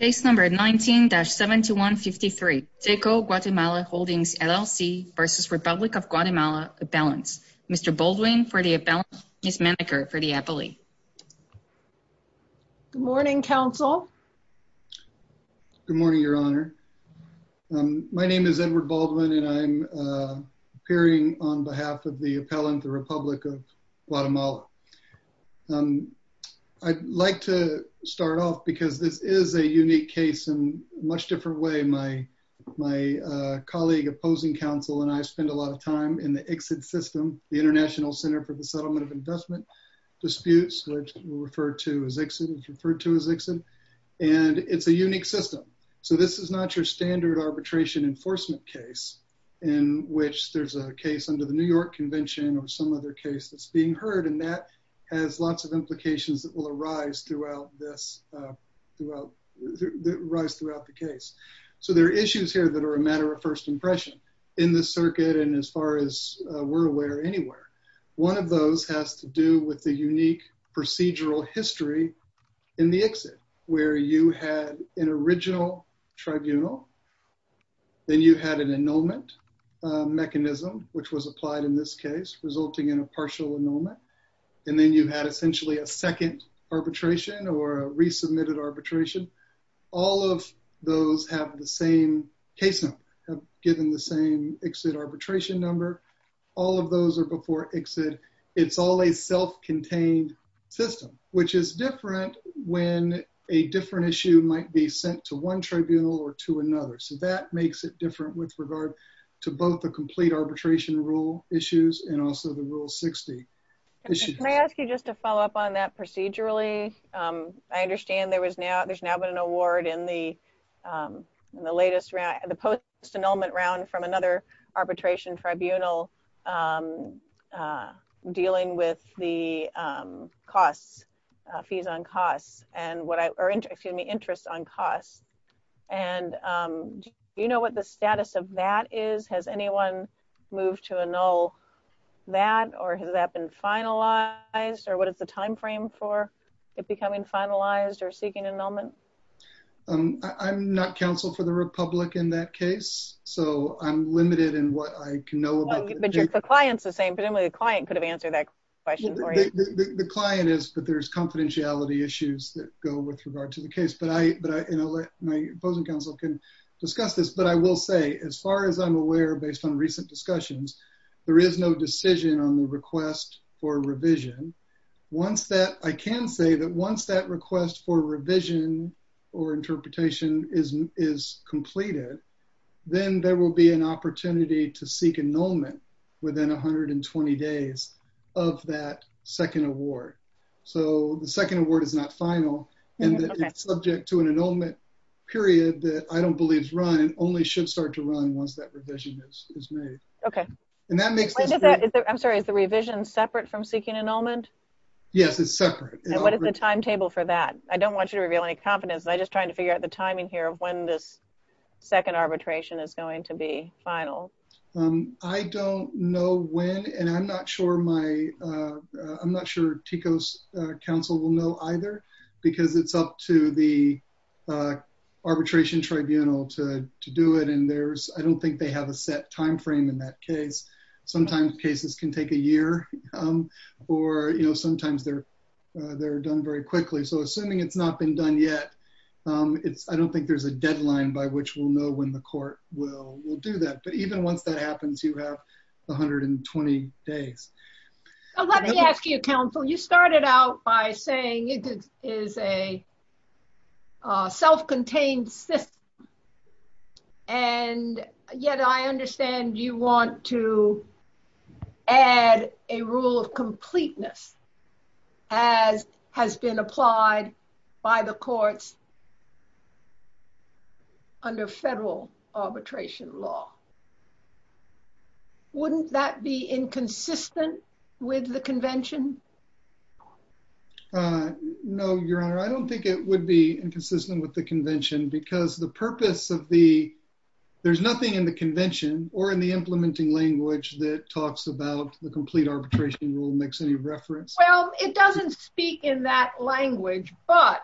Case number 19-7153, Teco Guatemala Holdings, LLC v. Republic of Guatemala Appellants. Mr. Baldwin for the appellants, Ms. Maneker for the appellate. Good morning, counsel. Good morning, your honor. My name is Edward Baldwin and I'm appearing on behalf of the is a unique case in a much different way. My colleague, opposing counsel, and I spend a lot of time in the ICSID system, the International Center for the Settlement of Investment Disputes, which is referred to as ICSID. And it's a unique system. So this is not your standard arbitration enforcement case in which there's a case under the New York Convention or some other case that's being heard. And that has lots of implications that will arise throughout this the rise throughout the case. So there are issues here that are a matter of first impression in the circuit. And as far as we're aware anywhere, one of those has to do with the unique procedural history in the ICSID where you had an original tribunal, then you had an annulment mechanism, which was applied in this case, resulting in a partial annulment. And then you had essentially a second arbitration or resubmitted arbitration. All of those have the same case number, have given the same ICSID arbitration number. All of those are before ICSID. It's all a self-contained system, which is different when a different issue might be sent to one tribunal or to another. So that makes it different with regard to both the complete arbitration rule issues and also the Rule 60. Can I ask you just to follow up on that procedurally? I understand there's now been an award in the latest round, the post-annulment round from another arbitration tribunal dealing with the costs, fees on costs, and what I, or excuse me, interest on costs. And do you know what the status of that is? Has anyone moved to annul that, or has that been finalized, or what is the timeframe for it becoming finalized or seeking annulment? I'm not counsel for the Republic in that case, so I'm limited in what I can know. But the client's the same, but only the client could have answered that question for you. The client is that there's confidentiality issues that go with regard to the case, but I, my opposing counsel can discuss this, but I will say, as far as I'm aware, based on recent discussions, there is no decision on the request for revision. Once that, I can say that once that request for revision or interpretation is completed, then there will be an opportunity to seek annulment within 120 days of that second award. So, the second award is not final, and it's subject to an annulment period that I don't believe is run, only should start to run once that revision is made. Okay. And that makes sense. I'm sorry, is the revision separate from seeking annulment? Yes, it's separate. What is the timetable for that? I don't want you to reveal any confidence, but I'm just trying to figure out the timing here of when this second arbitration is going to be final. I don't know when, and I'm not sure my, I'm not sure TICO's counsel will know either, because it's up to the arbitration tribunal to do it, and there's, I don't think they have a set time frame in that case. Sometimes cases can take a year, or, you know, sometimes they're, they're done very quickly. So, assuming it's not been done yet, it's, I don't think there's a deadline by which we'll know when the court will do that. But even once that happens, you have 120 days. Let me ask you, counsel, you started out by saying it is a self-contained system, and yet I understand you want to add a rule of completeness as has been applied by the courts under federal arbitration law. Wouldn't that be inconsistent with the convention? No, Your Honor, I don't think it would be inconsistent with the convention, because the purpose of the, there's nothing in the convention or in the implementing language that talks about the complete arbitration rule makes any reference. Well, it doesn't speak in that language, but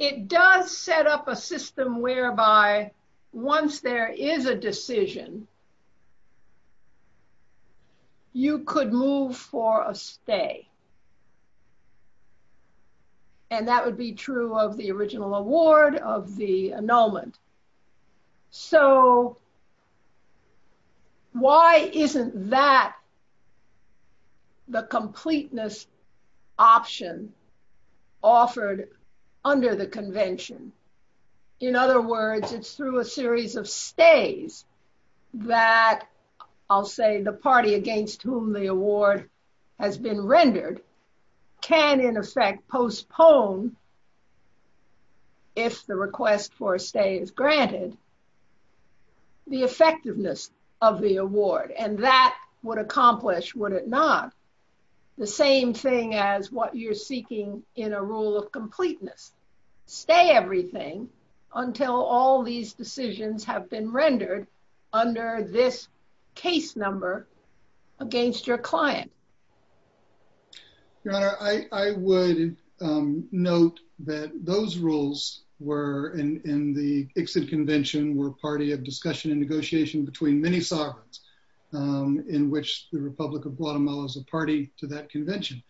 it does set up a system whereby once there is a decision, you could move for a stay. And that would be true of the original award, of the annulment. So, why isn't that the completeness option offered under the convention? In other words, it's through a series of stays that I'll say the party against whom the award has been rendered can in effect postpone, if the request for a stay is granted, the effectiveness of the award. And that would not be the same thing as what you're seeking in a rule of completeness. Stay everything until all these decisions have been rendered under this case number against your client. Your Honor, I would note that those rules were in the Ixod convention were a party of discussion negotiation between many sovereigns in which the Republic of Guatemala is a party to that convention.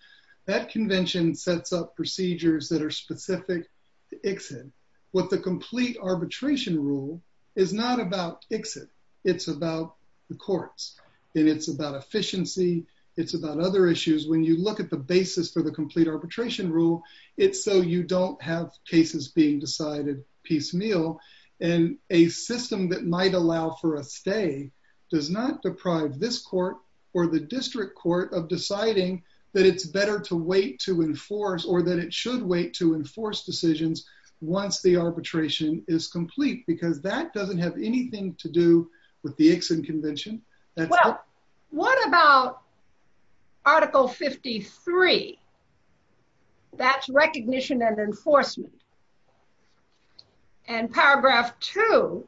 That convention sets up procedures that are specific to Ixod. What the complete arbitration rule is not about Ixod. It's about the courts and it's about efficiency. It's about other issues. When you look at the basis for the complete arbitration rule, it's so you don't have cases being decided piecemeal and a system that might allow for a stay does not deprive this court or the district court of deciding that it's better to wait to enforce or that it should wait to enforce decisions once the arbitration is complete because that doesn't have anything to do with the Ixod convention. Well, what about article 53? That's recognition and enforcement. And paragraph two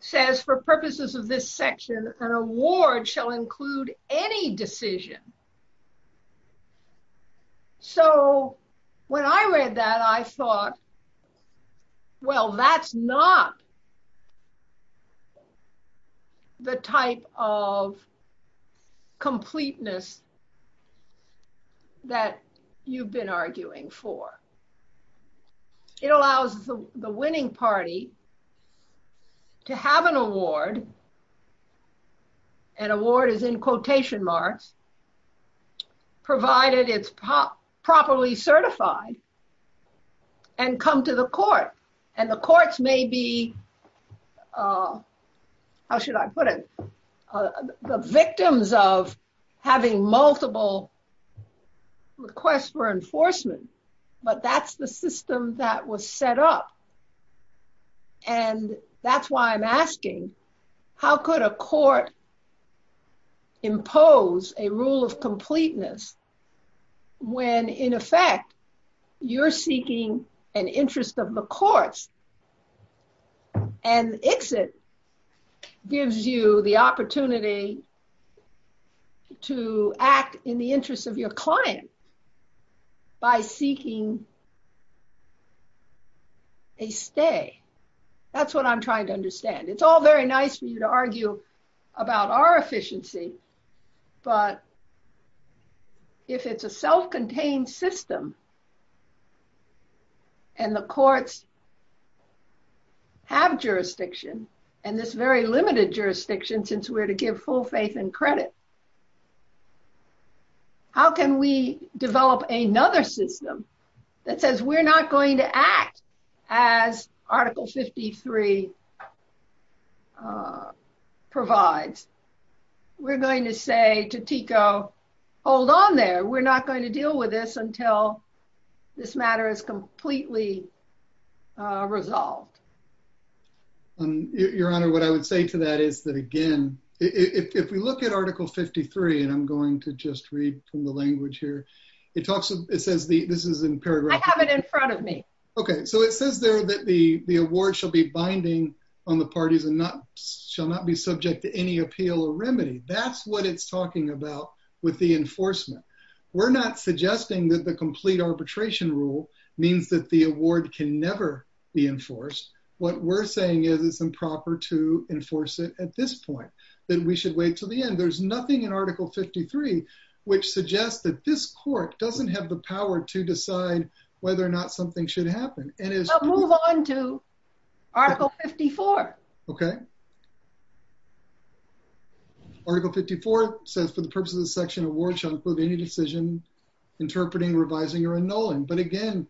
says for purposes of this section, an award shall include any decision. So when I read that, I thought, well, that's not the type of completeness that you've been arguing for. It allows the winning party to have an award, an award is in quotation marks, provided it's properly certified and come to the court. And the courts may be, how should I put it, the victims of having multiple requests for enforcement, but that's the system that was set up. And that's why I'm asking, how could a court impose a rule of completeness when, in effect, you're seeking an interest of the court and Ixod gives you the opportunity to act in the interest of your client by seeking a stay? That's what I'm trying to understand. It's all very nice for you to argue about our efficiency, but if it's a self-contained system and the courts have jurisdiction, and this very limited jurisdiction, since we're to give full faith and credit, how can we develop another system that says we're not going to act as Article 53 provides? We're going to say to TICO, hold on there, we're not going to deal with this until this matter is completely resolved. Your Honor, what I would say to that is that, again, if you look at Article 53, and I'm going to just read from the language here, it talks, it says, this is in paragraph- I have it in front of me. Okay, so it says there that the award shall be binding on the parties and shall not be subject to any appeal or remedy. That's what it's talking about with the enforcement. We're not suggesting that the complete arbitration rule means that the award can never be enforced. What we're saying is it's improper to enforce it at this point, that we should wait till the end. There's nothing in court that doesn't have the power to decide whether or not something should happen. Move on to Article 54. Okay. Article 54 says, for the purposes of the section, the award shall include any decision interpreting, revising, or annulment. But again,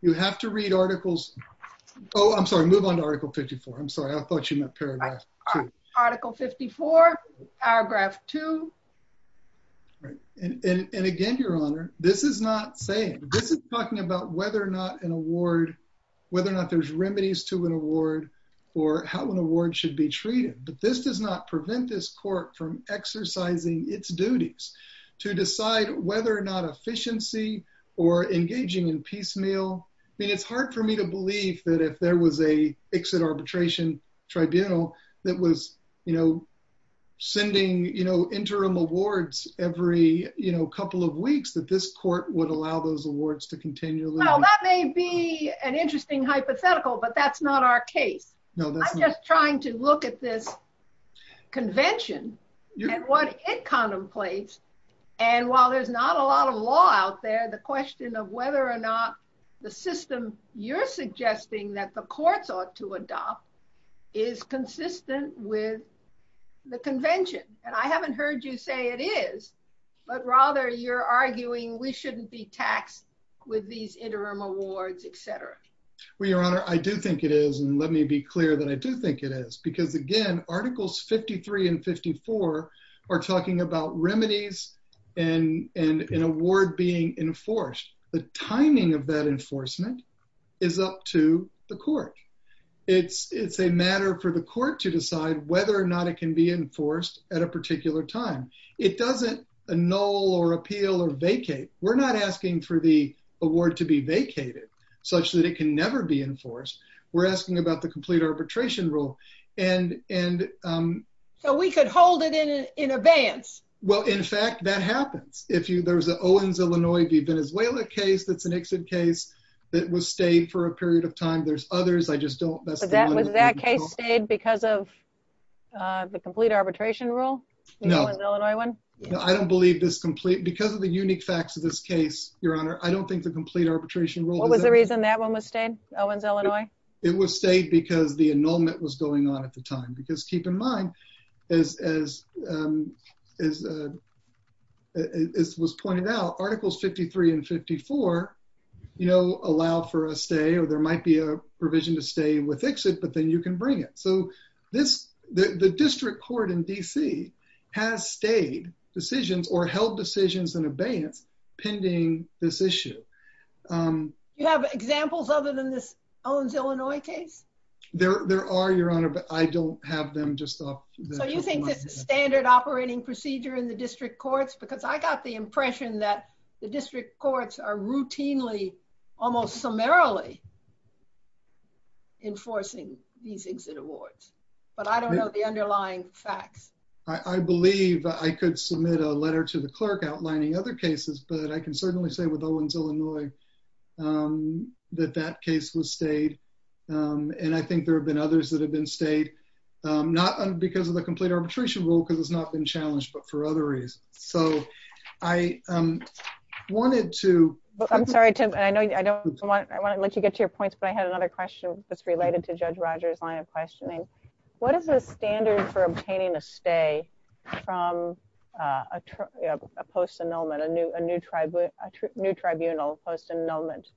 you have to read articles- Oh, I'm sorry, move on to Article 54. I'm sorry, I thought you meant paragraph two. Article 54, paragraph two. Right. And again, Your Honor, this is not saying, this is talking about whether or not an award, whether or not there's remedies to an award, or how an award should be treated. But this does not prevent this court from exercising its duties to decide whether or not efficiency or engaging in piecemeal. I mean, it's hard for me to believe that if there was a exit arbitration tribunal that was sending interim awards every couple of weeks, that this court would allow those awards to continue. Well, that may be an interesting hypothetical, but that's not our case. I'm just trying to look at this convention and what it contemplates. And while there's not a lot of law out there, the question of whether or not the system you're suggesting that the courts ought to adopt is consistent with the convention. And I haven't heard you say it is, but rather you're arguing we shouldn't be taxed with these interim awards, et cetera. Well, Your Honor, I do think it is. And let me be clear that I do think it is. Because again, Articles 53 and 54 are talking about remedies and an award being enforced. The timing of that enforcement is up to the court. It's a matter for the court to decide whether or not it can be enforced at a particular time. It doesn't annul or appeal or vacate. We're not asking for the award to be vacated such that it can never be enforced. We're asking about the complete arbitration rule. So we could hold it in advance. Well, in fact, that happens. If there's an Owens, Illinois v. Venezuela case that's an exit case that was stayed for a period of time. There's others. I just don't... But was that case stayed because of the complete arbitration rule? No. The Owens, Illinois one? I don't believe this complete... Because of the unique facts of this case, Your Honor, I don't think the complete arbitration rule... What was the reason that one was stayed? Owens, Illinois? It was stayed because the annulment was going on at the time. Because keep in mind, as was pointed out, Articles 53 and 54 allow for a stay or there might be a provision to stay with exit, but then you can bring it. So the district court in D.C. has stayed decisions or held decisions in abeyance pending this issue. Do you have examples other than this Owens, Venezuela case? So you think this is standard operating procedure in the district courts? Because I got the impression that the district courts are routinely, almost summarily, enforcing these exit awards. But I don't know the underlying facts. I believe I could submit a letter to the clerk outlining other cases, but I can certainly say with Owens, Illinois that that case was stayed. And I think there have been others that have been stayed, not because of the complete arbitration rule, because it's not been challenged, but for other reasons. So I wanted to... I'm sorry, Tim. I want to let you get to your points, but I had another question that's related to Judge Rogers' line of questioning. What are the standards for obtaining a stay from a post-annulment, a new tribunal post-annulment?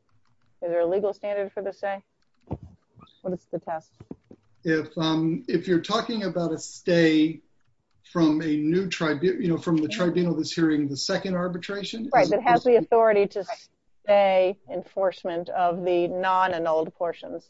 Is there a legal standard for the stay? What is the test? If you're talking about a stay from the tribunal that's hearing the second arbitration... Right, that has the authority to stay enforcement of the non-annulled portions.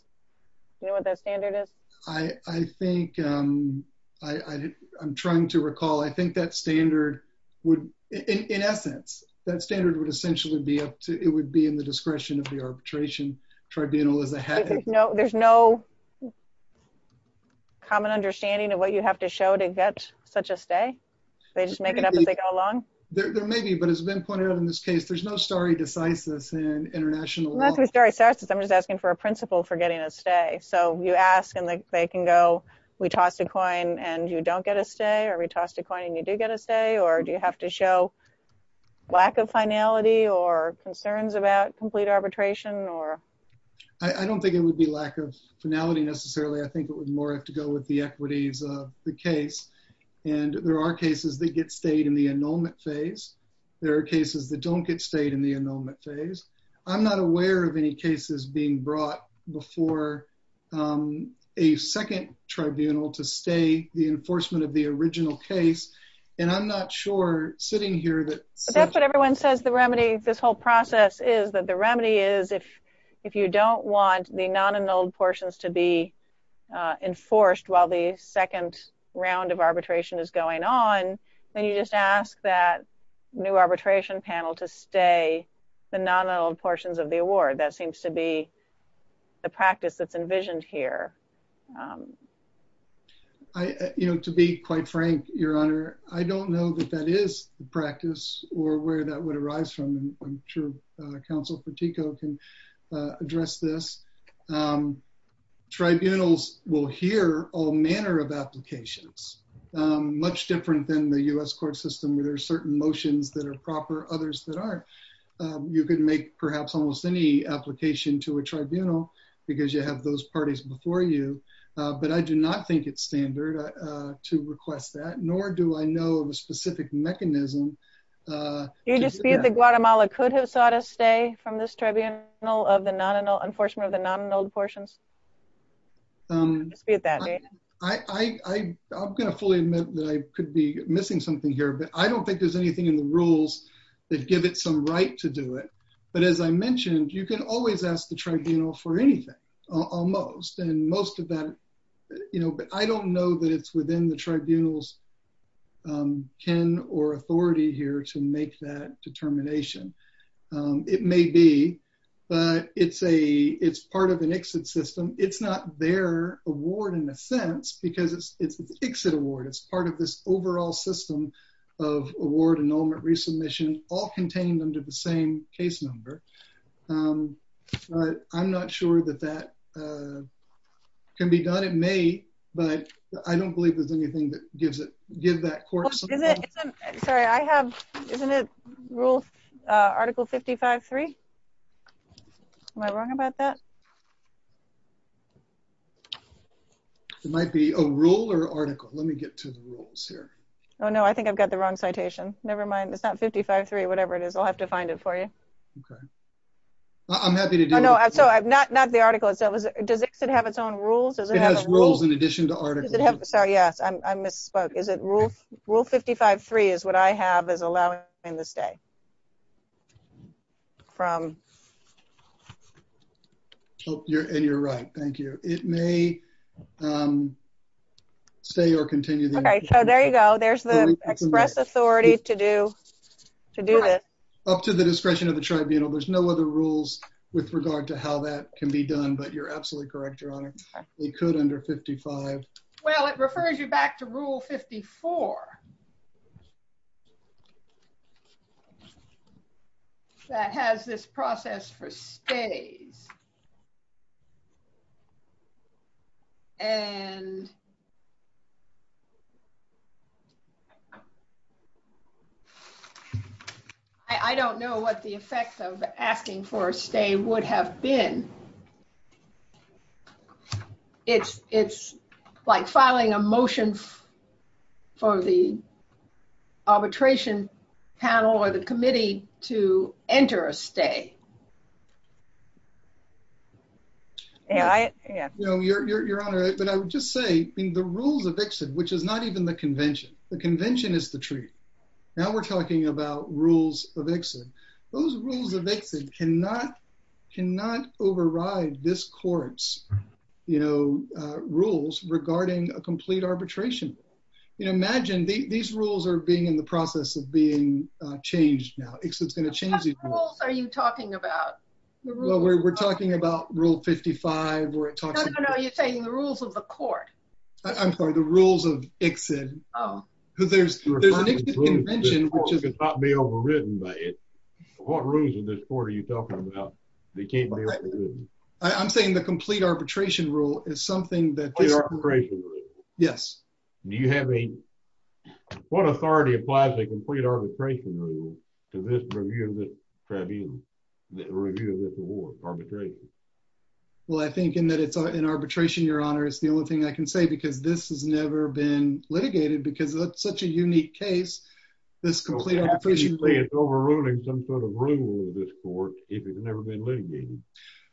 Do you know what that standard is? I think... I'm trying to recall. I think that standard would... In essence, that standard would essentially be up to... It would be in the discretion of the arbitration tribunal as a head. There's no common understanding of what you have to show to get such a stay? They just make it up as they go along? There may be, but as has been pointed out in this case, there's no stare decisis in international law. I'm not going to stare decisis. I'm just asking for a principle for getting a stay. So you ask and they can go, we tossed a coin and you don't get a stay, or we tossed a coin and you do get a stay? Or do you have to show lack of finality or concerns about complete arbitration? I don't think it would be lack of finality necessarily. I think it would more have to go with the equities of the case. And there are cases that get stayed in the annulment phase. There are cases that don't get stayed in the annulment phase. I'm not aware of any cases being brought before a second tribunal to stay the enforcement of the original case. And I'm not sure sitting here that... That's what everyone says the remedy, this whole process is that the remedy is if you don't want the non-annulled portions to be enforced while the second round of arbitration is going on, then you just ask that new arbitration panel to stay the non-annulled portions of the award. That seems to be the practice that's envisioned here. I, you know, to be quite frank, Your Honor, I don't know that that is the practice or where that would arise from. And I'm sure counsel Patiko can address this. Tribunals will hear all manner of applications, much different than the U.S. court system. There are certain motions that are proper, others that aren't. You could make perhaps almost any application to a tribunal because you have those parties before you. But I do not think it's standard to request that, nor do I know of a specific mechanism. Do you just see that Guatemala could have sought a stay from this tribunal of the non-annulled, enforcement of the non-annulled portions? I'm going to fully admit that I could be missing something here, but I don't think there's anything in the rules that give it some right to do it. But as I mentioned, you can always ask the tribunal for anything, almost. And most of that, you know, I don't know that it's within the tribunal's kin or authority here to make that determination. It may be, but it's a, it's part of an exit system. It's not their award in a sense because it's an exit award. It's part of this overall system of award, annulment, resubmission, all contained under the same case number. But I'm not sure that that can be done. It may, but I don't believe there's anything that gives it, give that court something. Sorry, I have, isn't it rule article 55-3? Am I wrong about that? It might be a rule or article. Let me get to the rules here. Oh no, I think I've got the wrong citation. Nevermind. It's not 55-3, whatever it is. I'll have to find it for you. Okay. I'm happy to do it. No, not the article itself. Does it have its own rules? It has rules in addition to articles. Yes. I misspoke. Is it rule 55-3 is what I have is allowing them to stay. You're right. Thank you. It may stay or continue. Okay. So there you go. There's the express authority to do, to do this. Up to the discretion of the tribunal. There's no other rules with regard to how that can be done, but you're absolutely correct, Your Honor. We could under 55. Well, it refers you back to rule 54. That has this process for stays. I don't know what the effects of asking for a stay would have been. It's like filing a motion for the arbitration panel or the committee to enter a stay. No, Your Honor, but I would just say in the rules of exit, which is not even the convention, the convention is the truth. Now we're talking about rules of exit. Those rules of exit cannot override this court's rules regarding a complete arbitration. Imagine these rules are being in the process of being changed now. What rules are you talking about? Well, we're talking about rule 55. No, no, no. You're saying the rules of the court. I'm sorry, the rules of exit. There's a convention which is not being overridden by it. What rules in this court are you talking about? They can't be overridden. I'm saying the complete arbitration rule is something that... The arbitration rule. Yes. Do you have a... What authority applies a complete arbitration rule to this review of this tribunal? Well, I think in that it's an arbitration, Your Honor, it's the only thing I can say, because this has never been litigated, because that's such a unique case. It's overruling some sort of rule of this court if it's never been litigated.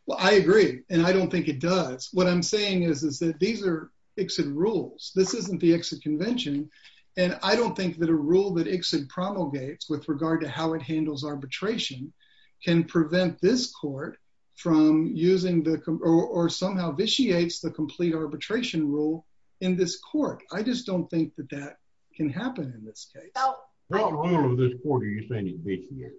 Well, I agree, and I don't think it does. What I'm saying is that these are exit rules. This isn't the exit convention, and I don't think that a rule that exit promulgates with regard to how it handles arbitration can prevent this court from using or somehow vitiates the complete arbitration rule in this court. I just don't think that that can happen in this case. How wrong of this court are you saying it vitiates?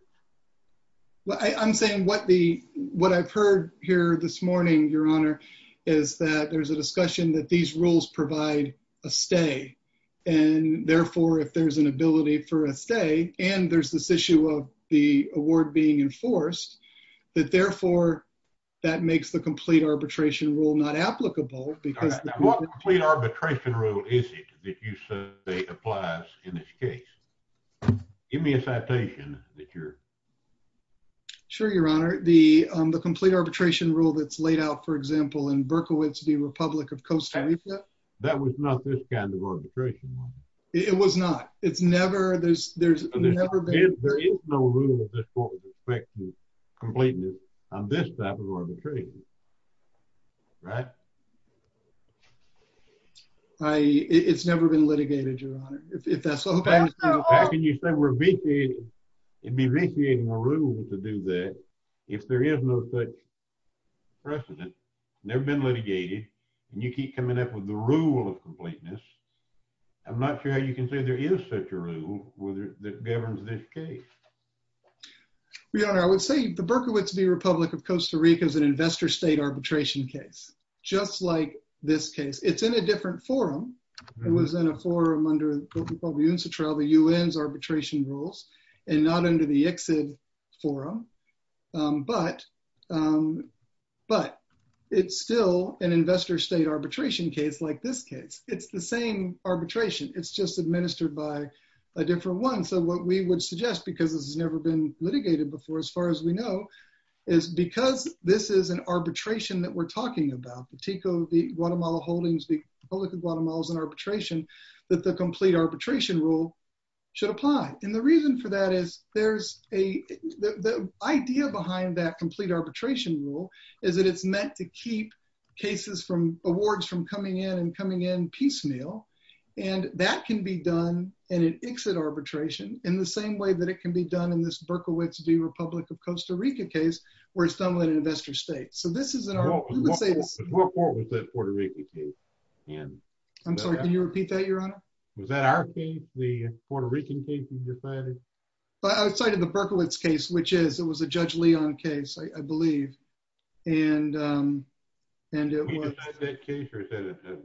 I'm saying what the... What I've heard here this morning, Your Honor, is that there's a discussion that these rules provide a stay, and therefore, if there's an ability for a stay, and there's this issue of the award being enforced, that therefore, that makes the complete arbitration rule not applicable, because... What complete arbitration rule is it that you say applies in this case? Give me a citation that you're... Sure, Your Honor. The complete arbitration rule that's laid out, for example, in Berkowitz v. Republic of Costa Rica... That was not this kind of arbitration rule. It was not. It's never... There's never been... There is no rule of this court with respect to completeness on this type of arbitration, right? It's never been litigated, Your Honor, if that's what I'm saying. How can you say we're vitiating? It'd be vitiating the rule to do that if there is no such precedent. Never been litigated, and you keep coming up with the rule of completeness. I'm not sure how you can say there is such a rule that governs this case. Your Honor, I would say the Berkowitz v. Republic of Costa Rica is an investor state arbitration case, just like this case. It's in a different forum. It was in a forum under what we call the UNCITRAL, the UN's arbitration rules, and not under the ICSID forum, but it's still an investor state arbitration case like this case. It's the same arbitration. It's just administered by a different one. So what we would suggest, because it's never been litigated before, as far as we know, is because this is an arbitration that we're talking about, the TICO, the Guatemala holdings, the Republic of Guatemala is an arbitration, that the complete arbitration rule should apply. And the reason for that is there's a... The idea behind that complete awards from coming in and coming in piecemeal, and that can be done in an ICSID arbitration in the same way that it can be done in this Berkowitz v. Republic of Costa Rica case, where it's done in an investor state. So this is an arbitration... Who reported with that Puerto Rican case? I'm sorry, can you repeat that, Your Honor? Was that our case, the Puerto Rican case you just cited? I cited the Berkowitz case, which is, it was a Judge Leon case, I believe, and... Was that that case, or is that an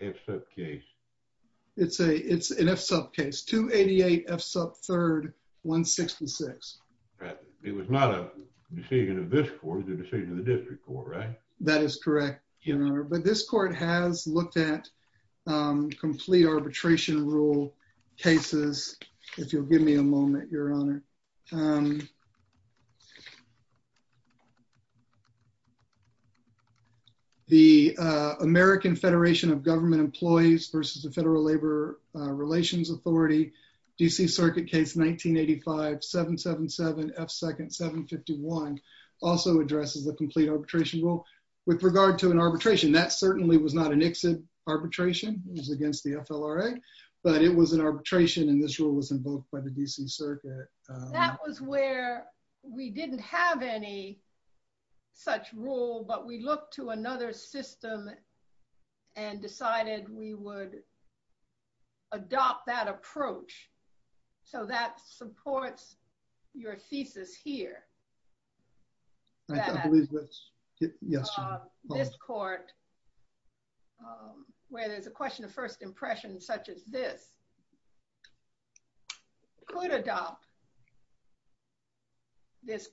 F-sub case? It's an F-sub case, 288 F-sub 3rd, 166. It was not a decision of this court, it was a decision of the district court, right? That is correct, Your Honor. But this court has looked at complete arbitration rule cases. If you'll give me a moment, Your Honor. The American Federation of Government Employees versus the Federal Labor Relations Authority, D.C. Circuit Case 1985-777-F2-751 also addresses a complete arbitration rule. With regard to an arbitration, that certainly was not an ICSID arbitration, it was against the FLRA, but it was an arbitration, and this rule was invoked by the D.C. Circuit. That was where we didn't have any such rule, but we looked to another system and decided we would adopt that approach. So that supports your thesis here. I believe that's... Yes, Your Honor. This court, where there's a question of first impression such as this, could adopt this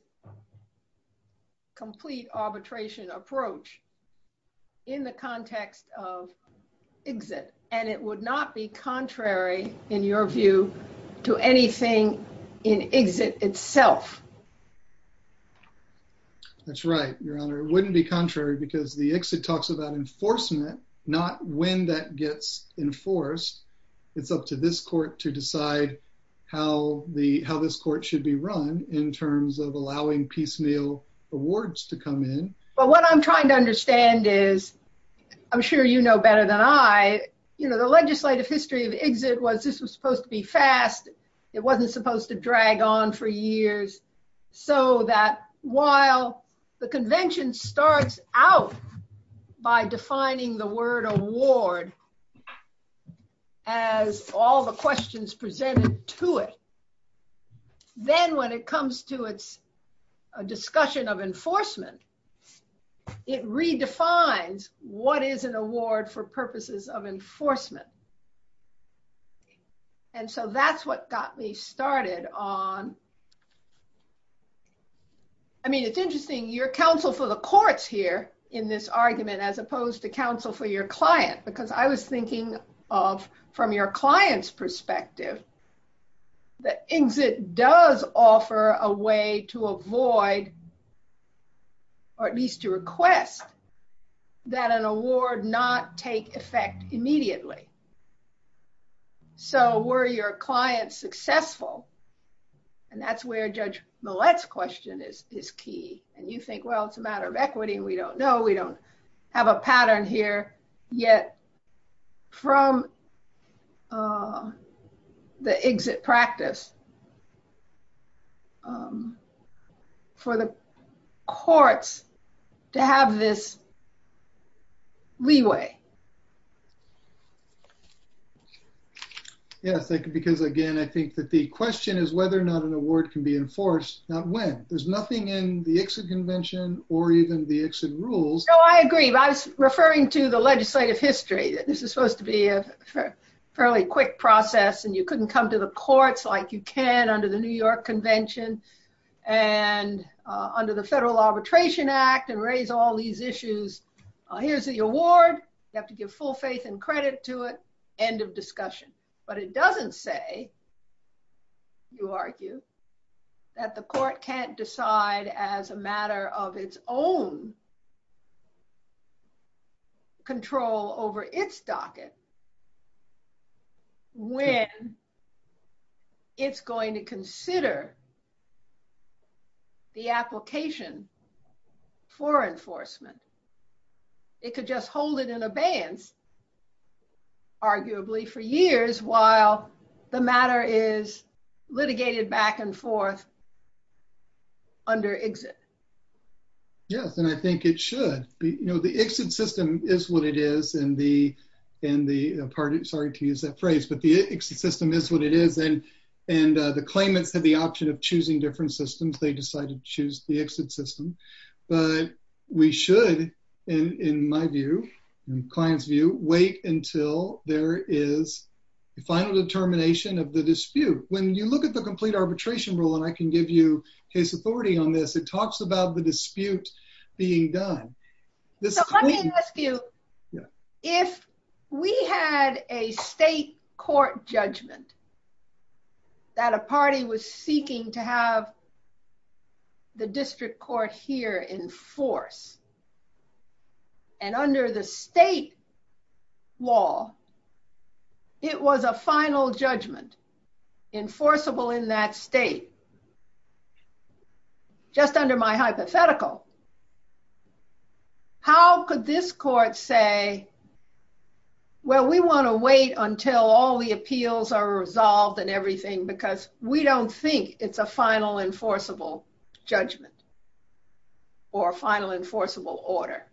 complete arbitration approach in the context of ICSID, and it would not be contrary, in your view, to anything in ICSID itself. That's right, Your Honor. It wouldn't be contrary because the ICSID talks about enforcement, not when that gets enforced. It's up to this court to decide how this court should be run in terms of allowing piecemeal awards to come in. But what I'm trying to understand is, I'm sure you know better than I, the legislative history of ICSID was this was supposed to be fast, it wasn't supposed to drag on for years, so that while the convention starts out by defining the word award as all the questions presented to it, then when it comes to its discussion of enforcement, it redefines what is an award for purposes of enforcement. And so that's what got me started on... I mean, it's interesting, your counsel for the courts here in this argument, as opposed to counsel for your client, because I was thinking of, from your client's perspective, that ICSID does offer a way to avoid, or at least to request, that an award not take effect immediately. So were your clients successful, and that's where Judge Millett's question is key, and you think, well, it's a matter of equity and we don't know, we don't have a pattern here, yet from the ICSID practice for the courts to have this leeway. Yeah, because again, I think that the question is whether or not an award can be enforced, not when. There's nothing in the ICSID convention or even the ICSID rules... I agree. I was referring to the legislative history, that this is supposed to be a fairly quick process and you couldn't come to the courts like you can under the New York Convention and under the Federal Arbitration Act and raise all these issues. Here's the award, you have to give full faith and credit to it, end of discussion. But it doesn't say, you argue, that the court can't decide as a matter of its own control over its docket when it's going to consider the application for enforcement. It could just hold it in abeyance, arguably, for years while the matter is litigated back and forth under ICSID. Yes, and I think it should. The ICSID system is what it is and the... Sorry to use that phrase, but the ICSID system is what it is and the claimants had the option of choosing different systems, they decided to choose the ICSID system. But we should, in my view, in the client's view, wait until there is a final determination of the dispute. When you look at the complete arbitration rule, and I can give you case authority on this, it talks about the disputes being done. So let me ask you, if we had a state court judgment that a party was seeking to have the district court here enforce, and under the state law, it was a final judgment, enforceable in that state, just under my hypothetical, how could this court say, well, we want to wait until all the appeals are resolved and everything because we don't think it's a final enforceable judgment or a final enforceable order?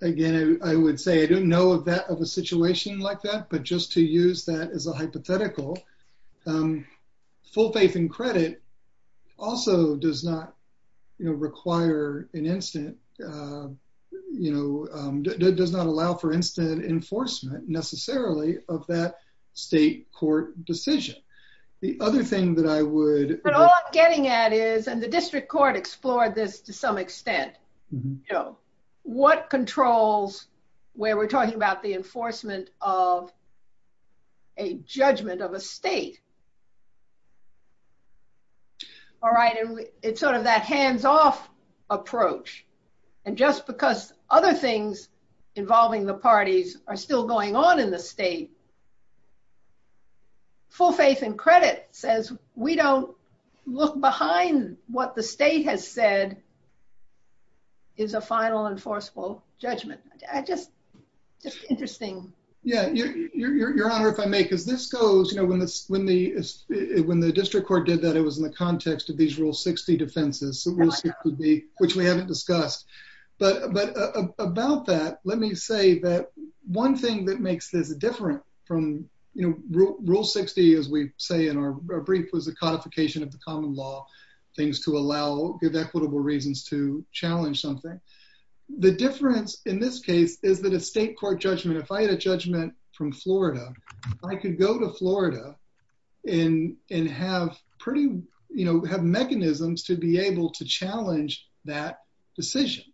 Again, I would say I don't know of a situation like that, but just to use that as a hypothetical, full faith and credit also does not require an instant... The other thing that I would... But all I'm getting at is, and the district court explored this to some extent, what controls where we're talking about the enforcement of a judgment of a state. It's sort of that hands-off approach. And just because other things involving the parties are still going on in the state, full faith and credit says we don't look behind what the state has said is a final enforceable judgment. I just... It's interesting. Yeah. Your Honor, if I may, because this goes... When the district court did that, it was in the context of these Rule 60 defenses, which we haven't discussed. But about that, let me say that one thing that makes this different from Rule 60, as we say in our brief, was the codification of the common law, things to allow good equitable reasons to challenge something. The difference in this case is that a state court judgment, if I had a judgment from Florida, I could go to Florida and have mechanisms to be able to challenge that decision.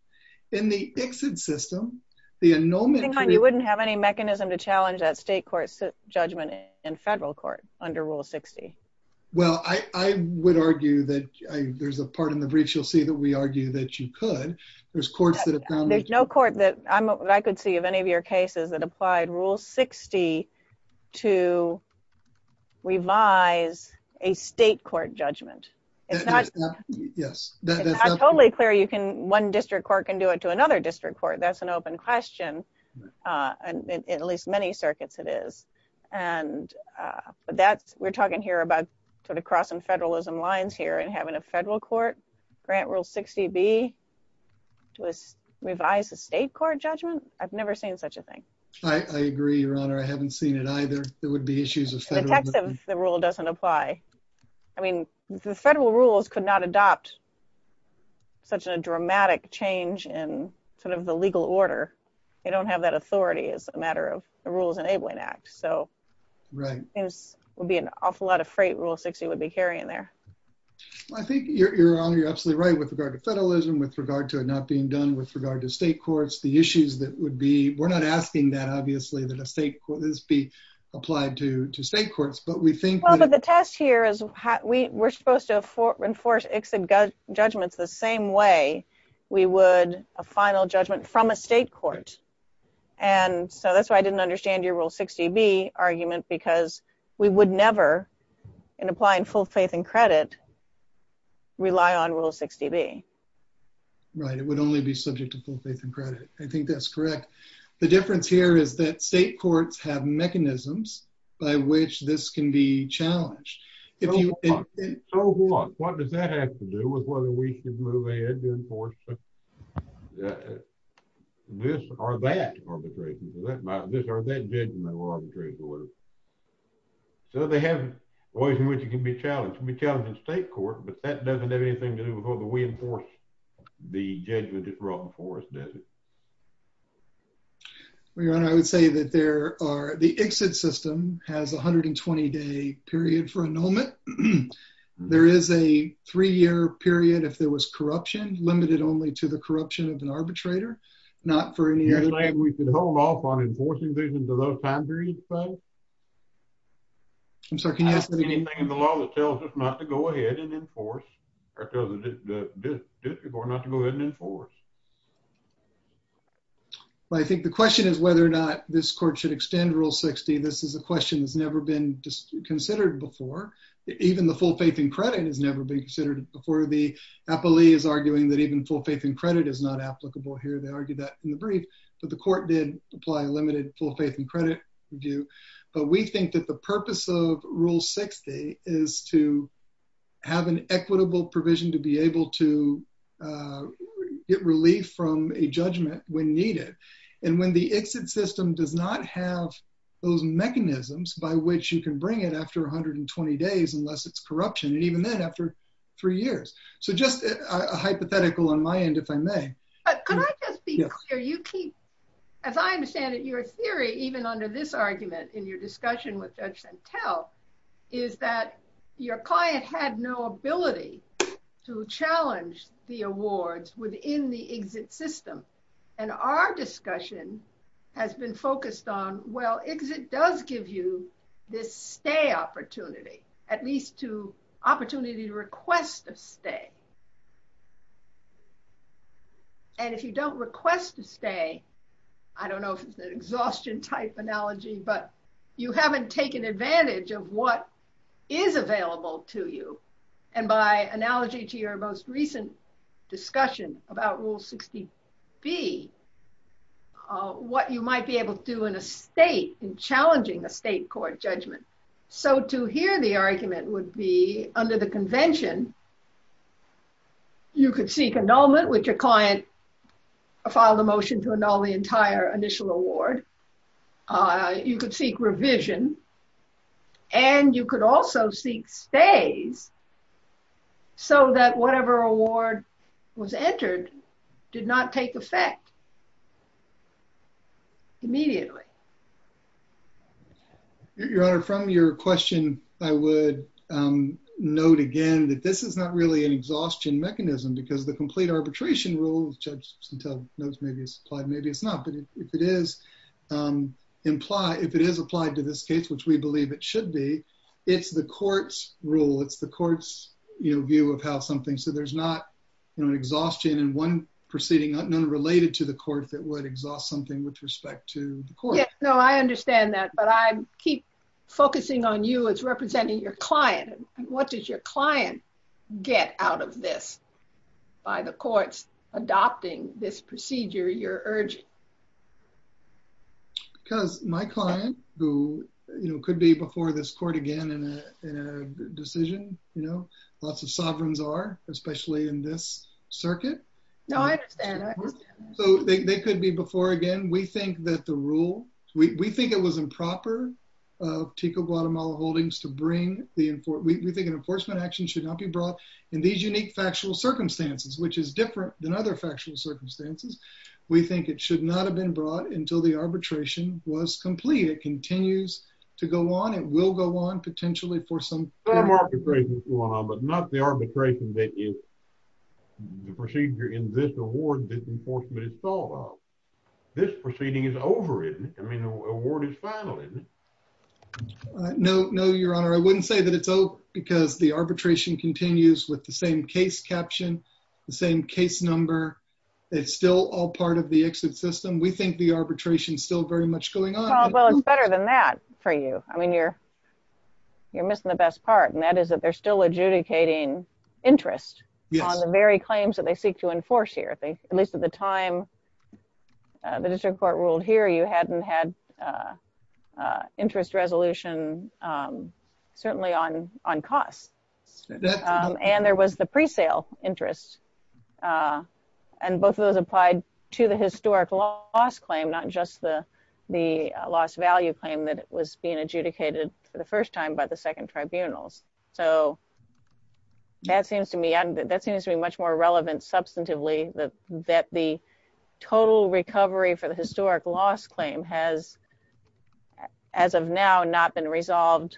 In the system, the... You wouldn't have any mechanism to challenge that state court judgment in federal court under Rule 60. Well, I would argue that... There's a part in the brief you'll see that we argue that you could. There's courts that have done... There's no court that I could see of any of your cases that applied Rule 60 to revise a state court judgment. Yes. It's not totally clear you can... One district court can do it to another district court. That's an open question. In at least many circuits it is. But that... We're talking here about crossing federalism lines here and having a federal court grant Rule 60B to revise a state court judgment. I've never seen such a thing. I agree, Your Honor. I haven't seen it either. There would be issues with federalism. The fact that the rule doesn't apply. I mean, the federal rules could not adopt such a dramatic change in the legal order. You don't have that authority as a matter of the Rules Enabling Act. So... Right. It would be an awful lot of freight Rule 60 would be carrying there. I think, Your Honor, you're absolutely right with regard to federalism, with regard to it not being done with regard to state courts. The issues that would be... We're not asking that, obviously, this be applied to state courts, but we think that... Well, but the test here is we're supposed to enforce exit judgments the same way we would a final judgment from a state court. And so that's why I didn't understand your Rule 60B argument because we would never, in applying full faith and credit, rely on Rule 60B. Right. It would only be subject to full faith and credit. I think that's correct. The difference here is that state courts have mechanisms by which this can be challenged. So what? What does that have to do with whether we should move ahead to enforce this or that arbitration? Or that judgment will arbitrate the rule? So they have ways in which it can be challenged. It can be challenged in state court, but that doesn't have anything to do with whether we enforce the judgment that we're going to enforce, does it? Well, your Honor, I would say that there are... The exit system has a 120-day period for annulment. There is a three-year period, if there was corruption, limited only to the corruption of an arbitrator, not for any... You're saying we can hold off on enforcing judgment until that time period, you say? I'm sorry, can you ask that again? Anything in the law that tells us not to go ahead and enforce? Well, I think the question is whether or not this court should extend Rule 60. This is a question that's never been considered before. Even the full faith and credit has never been considered before. The appellee is arguing that even full faith and credit is not applicable here. They argued that in the brief, but the court did apply a limited full faith and credit view. But we think that the purpose of Rule 60 is to have an equitable provision to be able to get relief from a judgment when needed. And when the exit system does not have those mechanisms by which you can bring it after 120 days, unless it's corruption, and even then after three years. So just a hypothetical on my end, if I may. Can I just be clear? You keep... As I understand it, your theory, even under this argument in your discussion with Judge Santel, is that your client had no ability to challenge the awards within the exit system. And our discussion has been focused on, well, exit does give you this stay opportunity, at least to opportunity to request a stay. And if you don't request a stay, I don't know if it's an exhaustion type analogy, but you haven't taken advantage of what is available to you. And by analogy to your most recent discussion about Rule 60B, what you might be able to do in a state in challenging a state court judgment. So to hear the argument would be under the convention, you could seek annulment with your client, file the motion to annul the entire initial award. You could seek revision, and you could also seek stay so that whatever award was entered did not take effect immediately. Your Honor, from your question, I would note again that this is not really an arbitration rule. Judge Santel knows maybe it's implied, maybe it's not. But if it is applied to this case, which we believe it should be, it's the court's rule. It's the court's view of how something... So there's not an exhaustion in one proceeding, none related to the court, that would exhaust something with respect to the court. Yes. No, I understand that. But I keep focusing on you as representing your client. What does your client get out of this by the courts adopting this procedure you're urging? Because my client, who could be before this court again in a decision, lots of sovereigns are, especially in this circuit. No, I understand. So they could be before again. We think that the rule... We think it was improper of Pico Guatemala Holdings to bring the... We think an enforcement action should not be brought in these unique factual circumstances, which is different than other factual circumstances. We think it should not have been brought until the arbitration was complete. It continues to go on. It will go on potentially for some... Some arbitration is going on, but not the arbitration that is the procedure in this award that this enforcement is thought of. This proceeding is over, isn't it? I mean, the award is final, isn't it? No, Your Honor. I wouldn't say that it's over because the arbitration continues with the same case caption, the same case number. It's still all part of the exit system. We think the arbitration is still very much going on. Well, it's better than that for you. I mean, you're missing the best part, and that is that they're still adjudicating interest on the very claims that they seek to enforce here. At least the time the district court ruled here, you hadn't had interest resolution certainly on cost, and there was the pre-sale interest, and both of those applied to the historic loss claim, not just the loss value claim that was being adjudicated for the first time by the second total recovery for the historic loss claim has, as of now, not been resolved.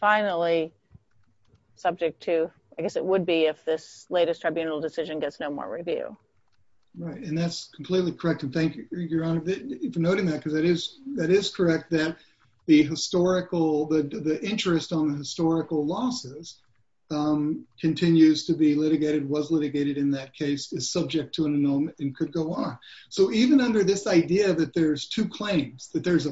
Finally, subject to... I guess it would be if this latest tribunal decision gets no more review. Right, and that's completely correct, and thank you, Your Honor, for noting that because it is correct that the interest on the historical losses continues to be litigated, was litigated in that case, is subject to an annulment, and could go on. So even under this idea that there's two claims, that there's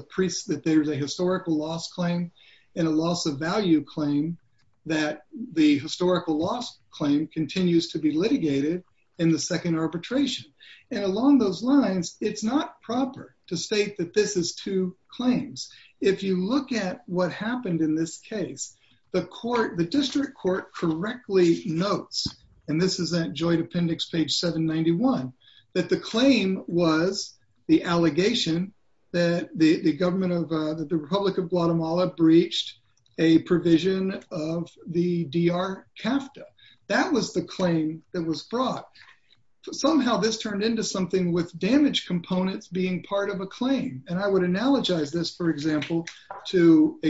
a historical loss claim and a loss of value claim, that the historical loss claim continues to be litigated in the second arbitration, and along those lines, it's not proper to state that this is two claims. If you look at what happened in this case, the district court correctly notes, and this is that joint appendix, page 791, that the claim was the allegation that the Republic of Guatemala breached a provision of the DR-CAFTA. That was the claim that was brought. Somehow, this turned into something with damaged components being part of a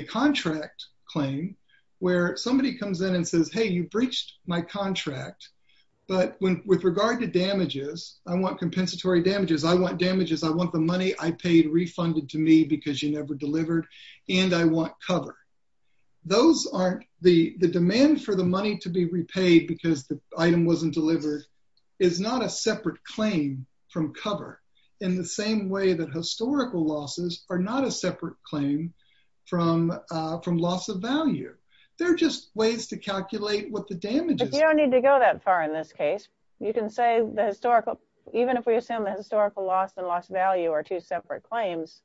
contract claim, where somebody comes in and says, hey, you breached my contract, but with regard to damages, I want compensatory damages, I want damages, I want the money I paid refunded to me because you never delivered, and I want cover. Those aren't, the demand for the money to be repaid because the item wasn't delivered is not a separate claim from cover, in the same way that historical losses are not a separate claim from loss of value. They're just ways to calculate what the damage is. You don't need to go that far in this case. You can say the historical, even if we assume the historical loss and loss of value are two separate claims,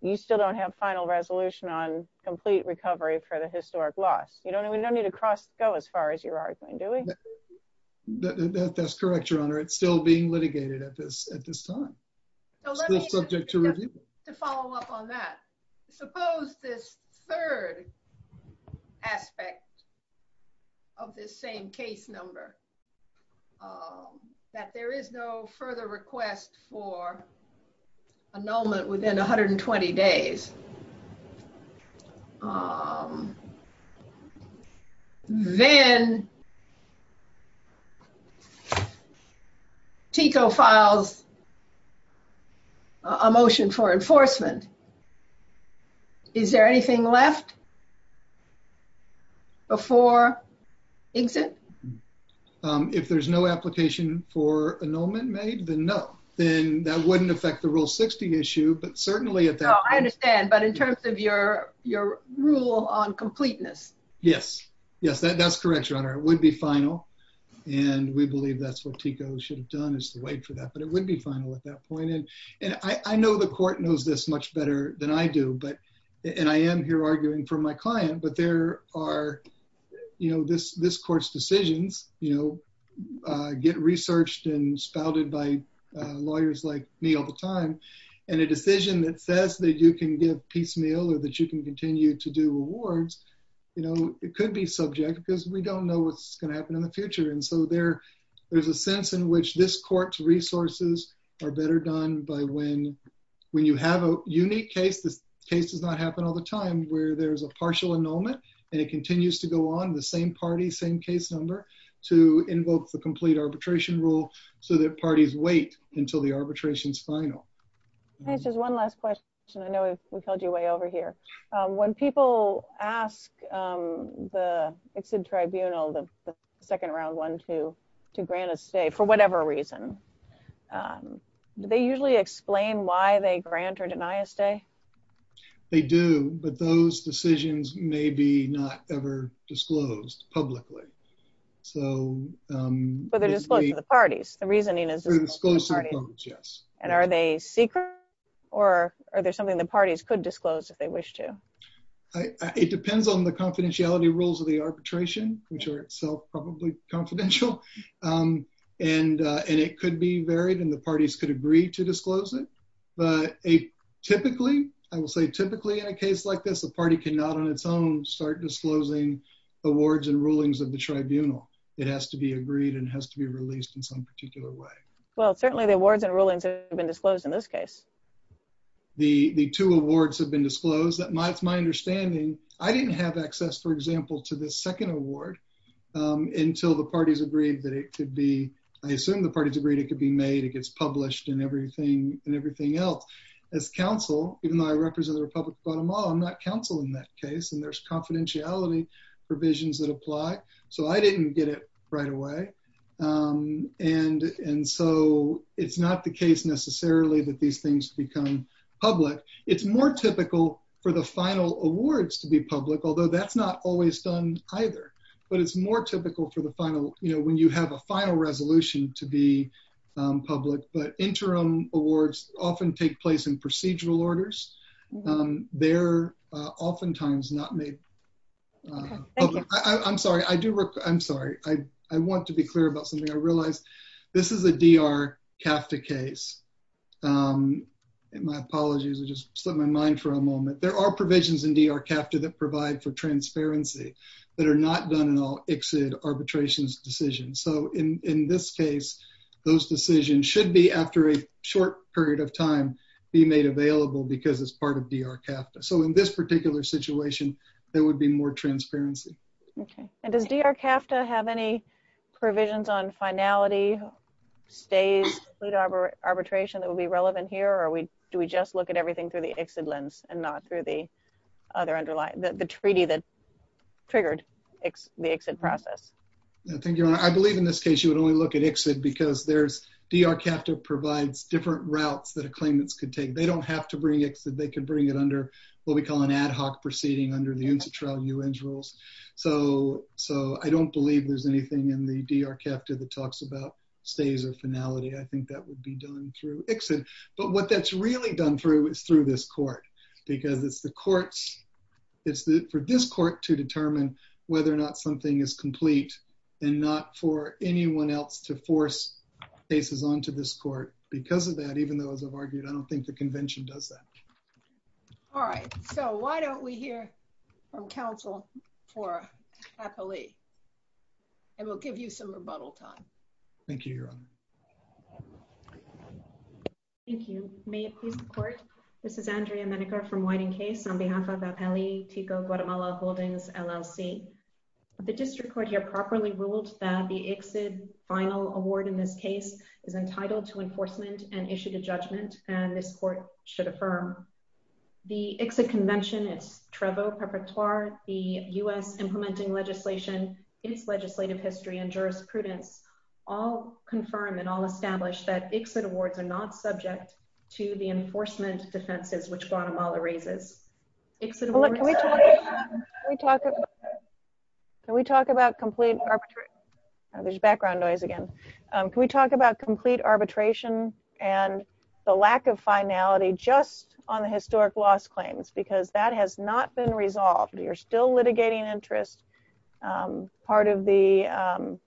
you still don't have final resolution on complete recovery for the historic loss. You don't even need to cross go as far as you're arguing, do we? That's correct, your litigation at this time. Let's follow up on that. Suppose this third aspect of this same case number, that there is no further request for annulment within 120 days. Then TICO files a motion for enforcement. Is there anything left before exit? If there's no application for annulment made, then no. Then that wouldn't affect the Rule 60 issue. I understand, but in terms of your rule on completeness? Yes, that's correct, your honor. It would be final. We believe that's what TICO should have done is to wait for that, but it would be final at that point. I know the court knows this much better than I do. I am here arguing for my client, but this court's decisions get researched and spouted by lawyers like me all the time. A decision that says that you can give piecemeal or that you can continue to do awards, it could be subject because we don't know what's going to happen in the future. There's a sense in which this court's resources are better done by when you have a unique case, the case does not happen all the time, where there's a partial annulment and it continues to go on, the same party, same case number, to invoke the complete arbitration rule so that parties wait until the next hearing. Just one last question. I know we've held you way over here. When people ask the tribunal, the second round one, to grant a stay, for whatever reason, do they usually explain why they grant or deny a stay? They do, but those decisions may be not ever disclosed publicly. But they're disclosed to the parties. The reasoning is- They're disclosed to the parties, yes. And are they secret or are there something the parties could disclose if they wish to? It depends on the confidentiality rules of the arbitration, which are itself probably confidential. And it could be varied and the parties could agree to disclose it. But typically, I will say typically in a case like this, the party cannot on its own start disclosing awards and rulings of the tribunal. It has to be agreed and has to be released in some particular way. Well, certainly the awards and rulings have been disclosed in this case. The two awards have been disclosed. That's my understanding. I didn't have access, for example, to the second award until the parties agreed that it could be- I assume the parties agreed it could be made. It gets published and everything else. As counsel, even though I represent the Republic of Guatemala, I'm not counsel in that case. And there's confidentiality provisions that apply. So I didn't get it right away. And so it's not the case necessarily that these things become public. It's more typical for the final awards to be public, although that's not always done either. But it's more typical for the final, you know, when you have a final resolution to be public. But interim awards often take place in procedural orders. They're oftentimes not made public. I'm sorry. I do- I'm sorry. I want to be clear about something I realized. This is a D.R. CAFTA case. My apologies. I just set my mind for a moment. There are provisions in D.R. CAFTA that provide for transparency that are not done in all exit arbitrations decisions. So in this case, those decisions should be, after a short period of time, be made available because it's part of D.R. CAFTA. So in this particular situation, there would be more transparency. Okay. And does D.R. CAFTA have any provisions on finality, stays, or arbitration that would be relevant here? Or do we just look at everything through the exit lens and not through the other underlying- the treaty that triggered the exit process? I believe in this case, you would only look at exit because there's- D.R. CAFTA provides different routes that a claimant could take. They don't have to bring proceeding under the inter-trial new rules. So I don't believe there's anything in the D.R. CAFTA that talks about stays or finality. I think that would be done through exit. But what that's really done through is through this court because it's the courts- it's for this court to determine whether or not something is complete and not for anyone else to force cases onto this court. Because of that, even though as I've argued, I don't think the convention does that. All right. So why don't we hear from counsel for Kathleen and we'll give you some rebuttal time. Thank you, Your Honor. Thank you. May it please the court. This is Andrea Menica from Whiting Case on behalf of the L.E. Tico Guatemala Holdings LLC. The district court here properly ruled that the exit final award in this case is entitled to enforcement and issued a judgment and this court should affirm the exit convention. It's Trevo perpetuar, the U.S. implementing legislation, its legislative history and jurisprudence all confirm and all establish that exit awards are not subject to the enforcement defenses which Guatemala raises. Can we talk about complete arbitration? There's background noise again. Can we talk about complete arbitration and the lack of finality just on the historic loss claims? Because that has not been resolved. You're still litigating interest. Part of the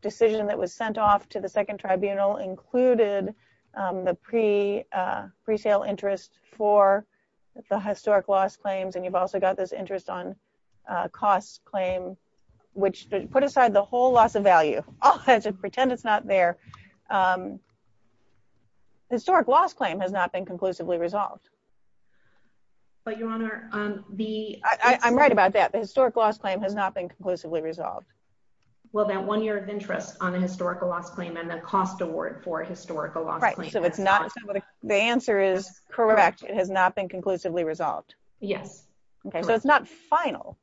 decision that was sent off to the second tribunal included the pre-sale interest for the historic loss claims and you've also got this interest on cost claim which put aside the whole loss of value. I'll just pretend it's not there. The historic loss claim has not been conclusively resolved. But your honor, the I'm right about that. The historic loss claim has not been conclusively resolved. Well that one year of interest on a historical loss claim and the cost award for a historical loss. Right. So it's not the answer is correct. It has not been conclusively resolved. Yes. Okay so it's not final.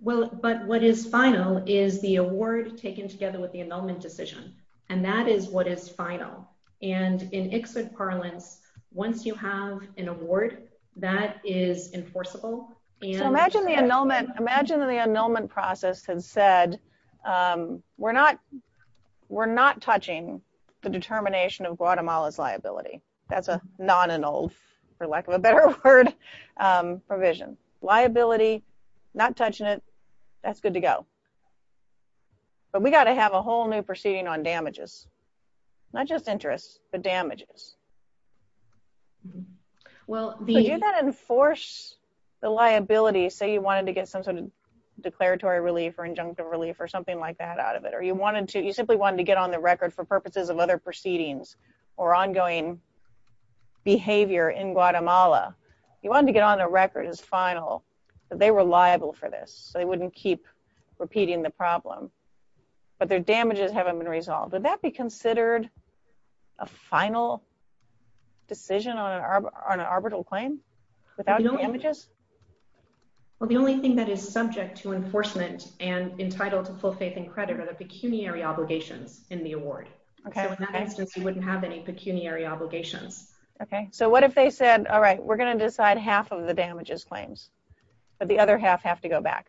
Well but what is final is the award taken together with the annulment decision and that is what is final and in exit parlance once you have an award that is enforceable. Imagine the annulment process had said we're not touching the determination of provision. Liability, not touching it, that's good to go. But we got to have a whole new proceeding on damages. Not just interest but damages. Well so you got to enforce the liability say you wanted to get some sort of declaratory relief or injunctive relief or something like that out of it or you wanted to you simply wanted to get on the record for purposes of other proceedings or ongoing behavior in Guatemala. You wanted to get on the record as final so they were liable for this so they wouldn't keep repeating the problem but their damages haven't been resolved. Would that be considered a final decision on an arbitral claim without damages? Well the only thing that is subject to enforcement and entitled to full faith and credit are the pecuniary obligations in the award. Okay. So in that instance you wouldn't have any pecuniary obligations. Okay so what if they said all the damages claims but the other half have to go back?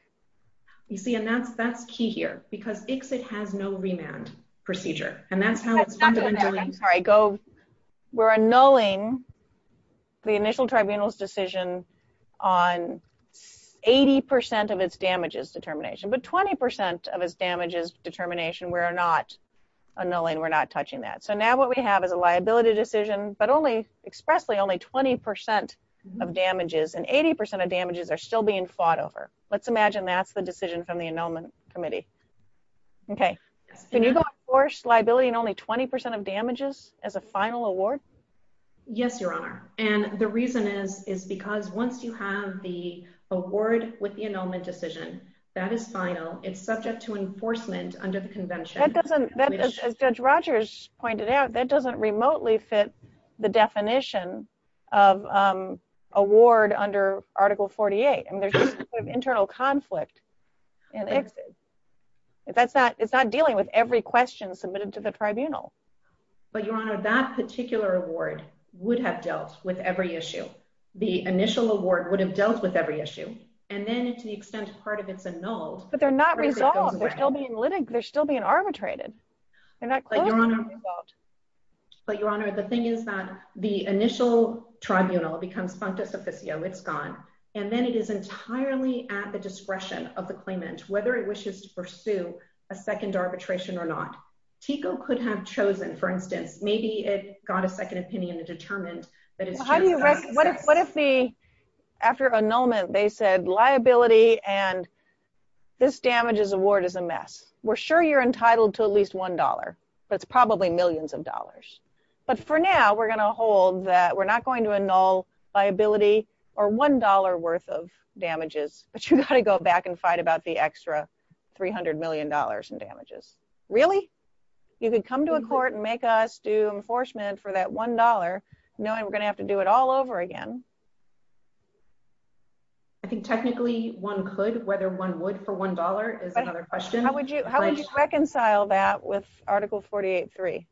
You see and that's that's key here because ICSIT has no remand procedure and that's how it's done. All right go we're annulling the initial tribunal's decision on 80 percent of its damages determination but 20 percent of its damages determination we're not annulling we're not touching that. So now what we have is a liability decision but only expressly only 20 percent of damages and 80 percent of damages are still being fought over. Let's imagine that's the decision from the annulment committee. Okay can you enforce liability and only 20 percent of damages as a final award? Yes your honor and the reason is is because once you have the award with the annulment decision that is final it's subject to enforcement under convention. That doesn't as Judge Rogers pointed out that doesn't remotely fit the definition of um award under article 48 and there's internal conflict and that's not it's not dealing with every question submitted to the tribunal. But your honor that particular award would have dealt with every issue. The initial award would have dealt with every issue and then to the extent part of But they're not resolved. They're still being litigated. They're still being arbitrated. But your honor the thing is that the initial tribunal becomes frontis officio it's gone and then it is entirely at the discretion of the claimant whether it wishes to pursue a second arbitration or not. TICO could have chosen for instance maybe it got a second opinion to determine that. How do you what if what if the after annulment they said liability and this damages award is a mess? We're sure you're entitled to at least one dollar that's probably millions of dollars but for now we're going to hold that we're not going to annul liability or one dollar worth of damages but you got to go back and fight about the extra 300 million dollars in damages. Really? You could come to a court and make us do enforcement for that one dollar knowing we're going to have to do it all over again. I think technically one could whether one would for one dollar is another question. How would you how would you reconcile that with article 48-3?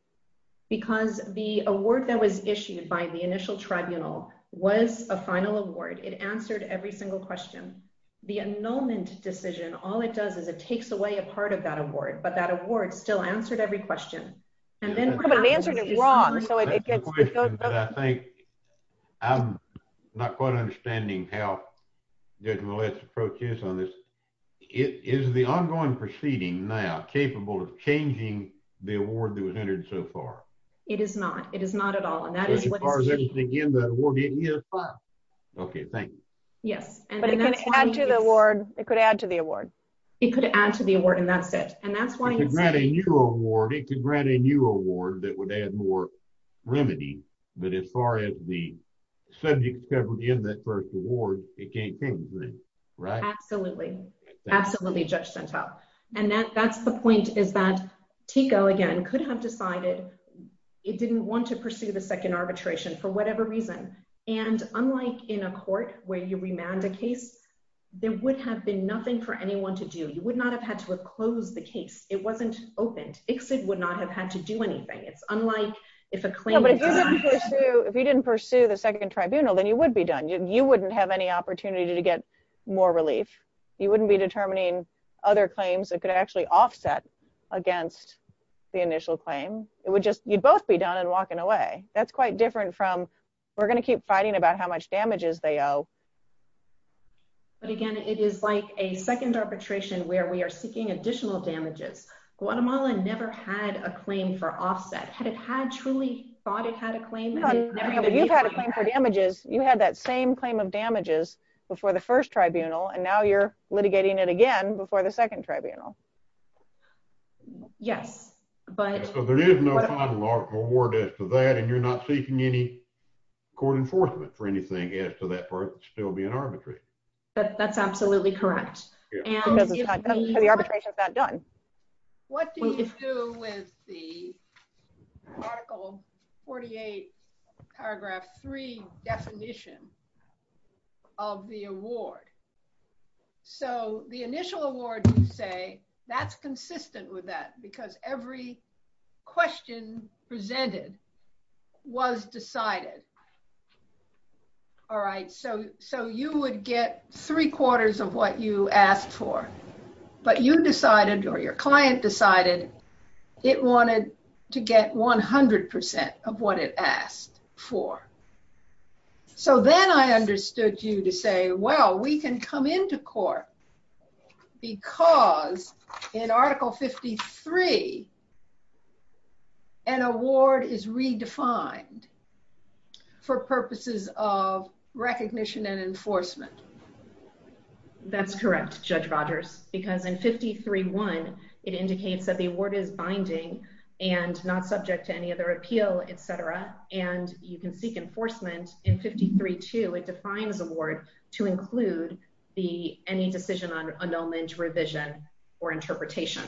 Because the award that was issued by the initial tribunal was a final award. It answered every single question. The annulment decision all it does is it takes away a part of award but that award still answered every question. And then the answer is wrong. But I think I'm not quite understanding how Judge Millett's approach is on this. Is the ongoing proceeding now capable of changing the award that was entered so far? It is not. It is not at all. As far as anything in the award. Okay thank you. Yes but it can add to the award. It could add to the award. It could add to the award and that's it. And that's why you grant a new award. It could grant a new award that would add more remedy. But as far as the subject covered in that first award it can't change it. Right? Absolutely. Absolutely. Judge sent out. And that that's the point is that Keiko again could have decided it didn't want to pursue the second arbitration for whatever reason. And unlike in a court where you remand a case there would have been nothing for anyone to do. You would not have had to close the case. It wasn't open. ICFID would not have had to do anything. It's unlike if a claim. If you didn't pursue the second tribunal then you would be done. You wouldn't have any opportunity to get more relief. You wouldn't be determining other claims that could actually offset against the initial claim. It would just you'd both be done and walking away. That's quite different from we're going to keep fighting about how much damages they owe. But again it is like a second arbitration where we are seeking additional damages. Guatemala never had a claim for offset. Had it had truly thought it had a claim? You've had a claim for damages. You had that same claim of damages before the first tribunal and now you're litigating it again before the second tribunal. Yes, but there is no final award for that and you're not seeking any court enforcement for anything after that for it to still be an arbitration. But that's absolutely correct. And the arbitration is not done. What do you do with the article 48 paragraph 3 definition of the award? So the initial award you say that's consistent with that because every question presented was decided. All right, so you would get three quarters of what you asked for. But you decided or your client decided it wanted to get 100% of what it asked for. So then I understood you to well we can come into court because in article 53 an award is redefined for purposes of recognition and enforcement. That's correct Judge Rogers because in 53-1 it indicates that the award is binding and not subject to any other appeal etc. And you can seek enforcement in 53-2. It defines awards to include any decision on annulment, revision, or interpretation.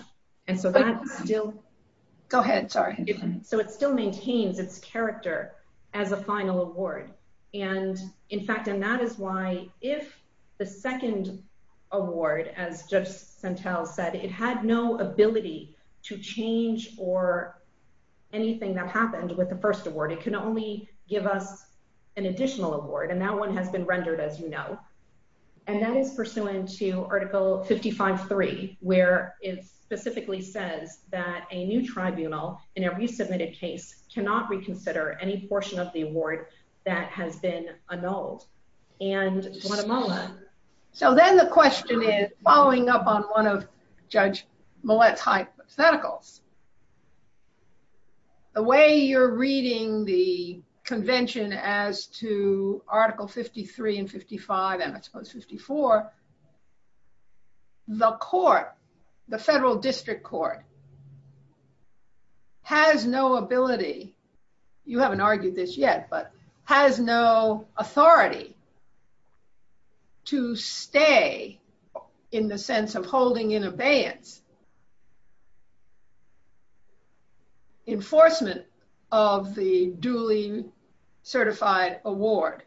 Go ahead, sorry. So it still maintains its character as a final award. And in fact and that is why if the second award as Judge Santel said it had no ability to change or anything that happened with the award. It can only give us an additional award and that one has been rendered as you know. And that is pursuant to article 55-3 where it specifically says that a new tribunal in every submitted case cannot reconsider any portion of the award that has been annulled. So then the question is following up on one of Judge Millett's hypotheticals. The way you're reading the convention as to article 53 and 55 and I suppose 54, the court, the federal district court, has no ability, you haven't argued this yet, but enforcement of the duly certified award.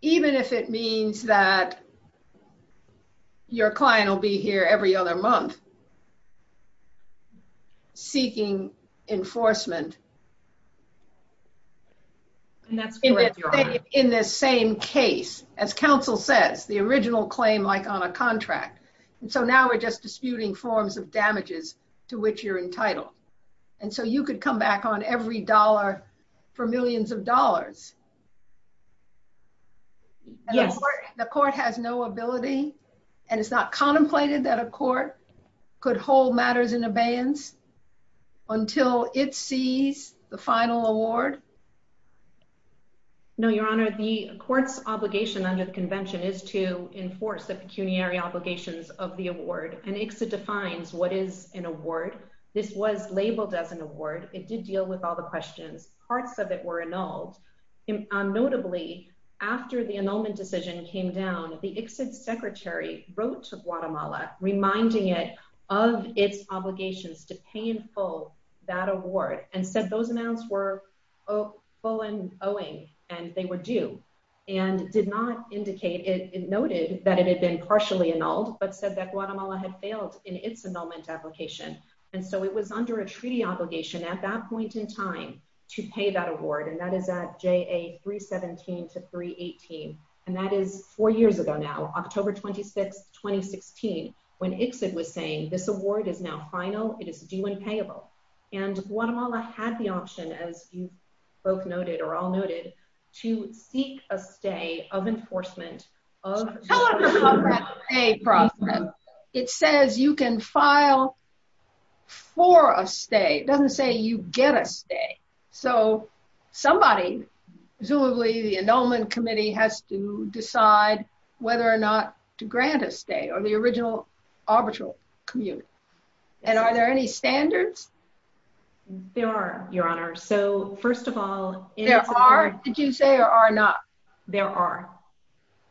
Even if it means that your client will be here every other month seeking enforcement in the same case as counsel says the original claim like on a contract. And so now we're just disputing forms of damages to which you're entitled. And so you could come back on every dollar for millions of dollars. The court has no ability and it's not contemplated that a court could hold matters in abeyance until it sees the final award. No, your honor. The court's obligation under the convention is to award. And ICSA defines what is an award. This was labeled as an award. It did deal with all the questions. Parts of it were annulled. Notably, after the annulment decision came down, the ICSA secretary wrote to Guatemala reminding it of its obligations to pay in full that award and said those amounts were full and owing and they were due. And did not indicate, it noted that it had been partially annulled, but said that Guatemala had failed in its annulment application. And so it was under a treaty obligation at that point in time to pay that award. And that is at JA 317 to 318. And that is four years ago now, October 26, 2016, when ICSA was saying this award is now final. It is due and payable. And Guatemala had the option, as you both noted or all noted, to seek a stay of enforcement of the stay program. It says you can file for a stay. It doesn't say you get a stay. So somebody, presumably the annulment committee, has to decide whether or not to grant a stay or the original arbitral community. And are there any standards? There are, Your Honor. So first of all, There are? Did you say there are not? There are.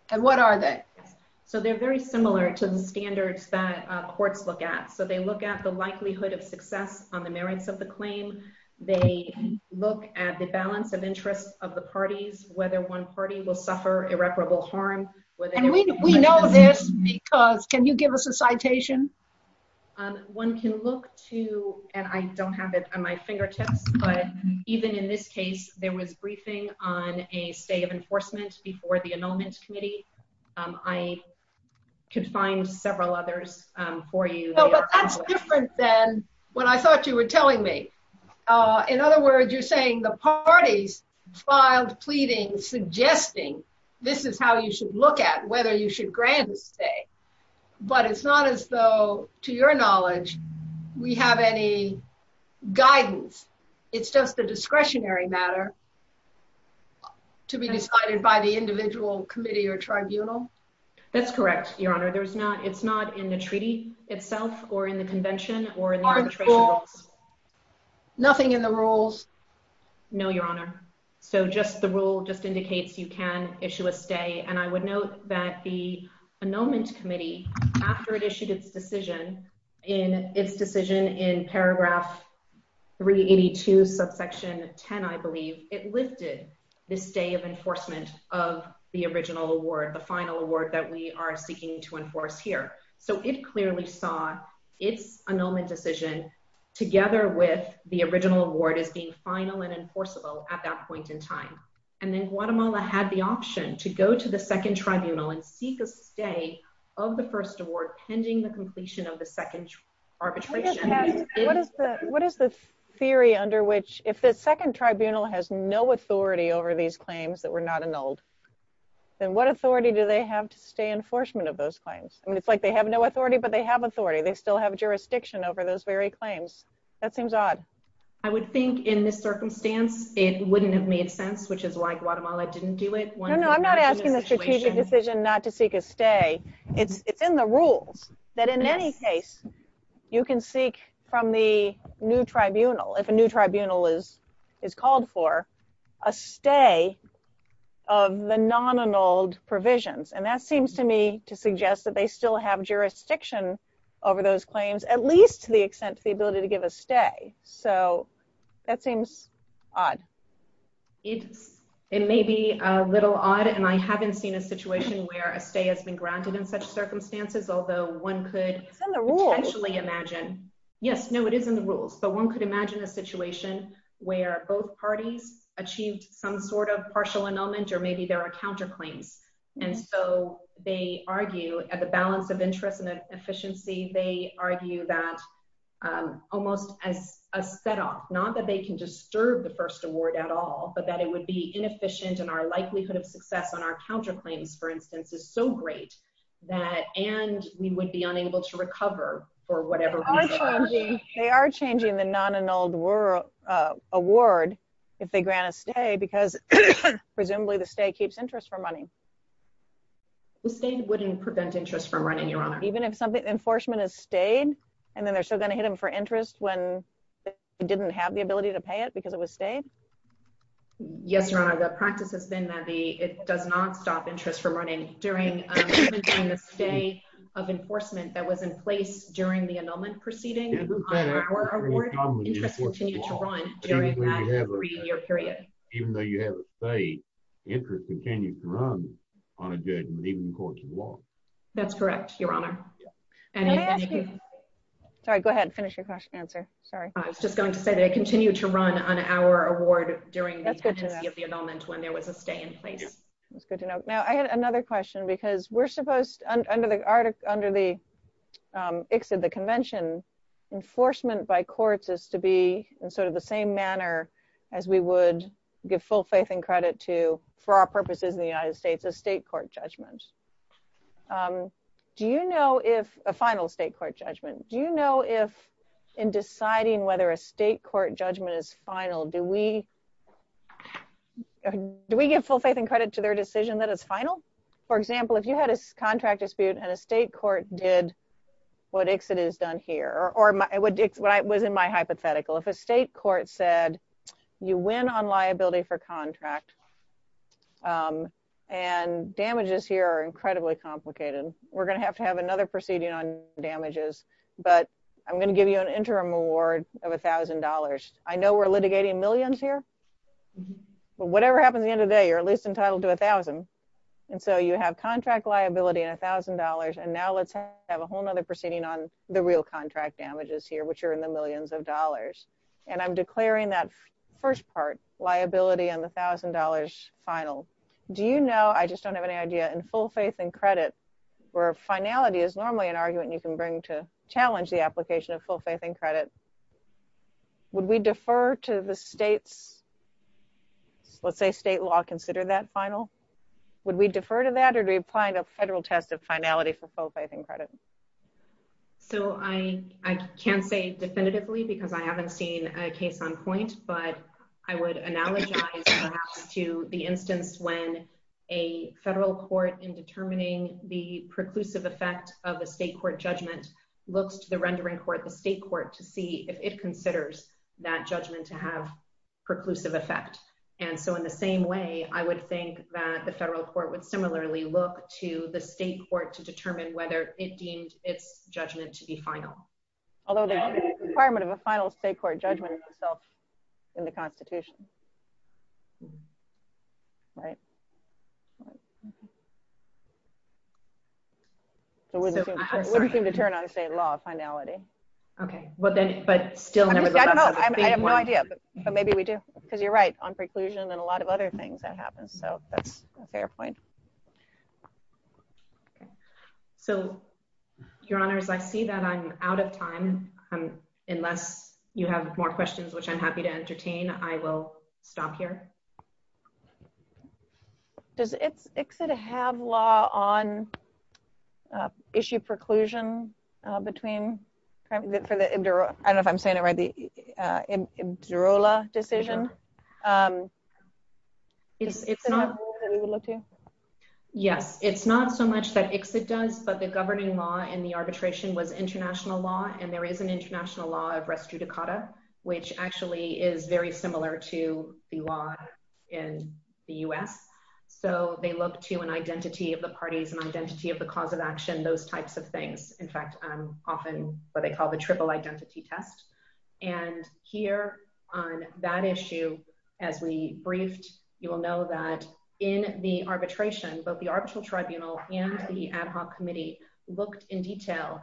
And what are they? So they're very similar to the standards that courts look at. So they look at the likelihood of success on the merits of the claim. They look at the balance of interest of the parties, whether one party will suffer irreparable harm. And we know this because, can you give us a citation? One can look to, and I don't have it on my fingertips, but even in this case, there was briefing on a stay of enforcement before the annulment committee. I can find several others for you later. That's different than what I thought you were telling me. In other words, you're saying the parties filed pleadings suggesting this is how you should look at whether you should grant a stay. But it's not as though, to your knowledge, we have any guidance. It's just a discretionary matter to be decided by the individual committee or tribunal. That's correct, Your Honor. It's not in the treaty itself or in the convention or in the arbitral. Are there rules? Nothing in the rules? No, Your Honor. So just the rule just indicates you can issue a stay. And I would note that the after it issued its decision in paragraph 382 subsection 10, I believe, it listed the stay of enforcement of the original award, the final award that we are seeking to enforce here. So it clearly saw its annulment decision together with the original award as being final and enforceable at that point in time. And then Guatemala had the option to go to the second award pending the completion of the second arbitration. What is the theory under which if the second tribunal has no authority over these claims that were not annulled, then what authority do they have to stay enforcement of those claims? I mean, it's like they have no authority, but they have authority. They still have jurisdiction over those very claims. That seems odd. I would think in this circumstance, it wouldn't have made sense, which is why Guatemala didn't do it. I'm not asking a strategic decision not to seek a stay. It's in the rules that in any case, you can seek from the new tribunal, if a new tribunal is called for, a stay of the non-annulled provisions. And that seems to me to suggest that they still have jurisdiction over those claims, at least to the extent to the ability to give a stay. So that seems odd. It may be a little odd and I haven't seen a situation where a stay has been granted in such circumstances, although one could actually imagine. Yes, no, it is in the rules. But one could imagine a situation where both parties achieved some sort of partial annulment or maybe there are counterclaims. And so they argue at the balance of interest and efficiency, they argue that almost as a set off, not that they can disturb the first award at all, but that it would be inefficient and our likelihood of success on our counterclaims, for instance, is so great that and we would be unable to recover for whatever. They are changing the non-annulled award if they grant a stay because presumably the stay keeps interest for money. The stay wouldn't prevent interest even if something enforcement has stayed and then they're still going to hit him for interest when it didn't have the ability to pay it because it was stayed. Yes, your Honor, the practice has been that it does not stop interest from running during the stay of enforcement that was in place during the annulment proceeding. Even though you have a stay, interest continues to run on a judgment even before it's lost. That's correct, your Honor. Sorry, go ahead and finish your question and answer. Sorry. I was just going to say that it continued to run on our award during the annulment when there was a stay in place. That's good to know. Now, I had another question because we're supposed under the ICSID, the convention, enforcement by court is to be in sort of the same manner as we would give full faith and credit to, for our purposes in the United States, the state court judgments. Do you know if, a final state court judgment, do you know if in deciding whether a state court judgment is final, do we give full faith and credit to their decision that it's final? For example, if you had a contract dispute and a state court did what ICSID has done here, or it was in my hypothetical, if a state court said you win on liability for contract, and damages here are incredibly complicated, we're going to have to have another proceeding on damages, but I'm going to give you an interim award of $1,000. I know we're litigating millions here, but whatever happened at the end of the day, you're at least entitled to $1,000. And so you have contract liability and $1,000, and now let's have a whole nother proceeding on the real contract damages here, which are in the millions of dollars. And I'm declaring that first part, liability on the $1,000 final. Do you know, I just don't have any idea, in full faith and credit, where finality is normally an argument you can bring to challenge the application of full faith and credit, would we defer to the state's, let's say state law considered that final, would we defer to that or be applying a federal test of finality for that? I haven't seen a case on point, but I would analogize that to the instance when a federal court in determining the preclusive effect of a state court judgment looks to the rendering court, the state court, to see if it considers that judgment to have preclusive effect. And so in the same way, I would think that the federal court would similarly look to the state court to determine whether it deems its judgment to be final. Although the requirement of a final state court judgment itself in the constitution, right? It wouldn't seem to turn on state law finality. Okay. But then, but still... I don't know. I have no idea, but maybe we do, because you're right on preclusion and a lot of other things that happen. So, fair point. So, your honors, I see that I'm out of time. Unless you have more questions, which I'm happy to entertain, I will stop here. Does ICSA have law on issue preclusion between, for the, I don't know if I'm saying it right, the MDROLA decision? Yes. It's not so much that ICSA does, but the governing law and the arbitration was international law and there is an international law of res judicata, which actually is very similar to the law in the US. So, they look to an identity of the parties and identity of the cause of action, those types of things. In fact, often what they call the triple identity test. And here on that issue, as we briefed, you will know that in the arbitration, both the arbitral tribunal and the ad hoc committee looked in detail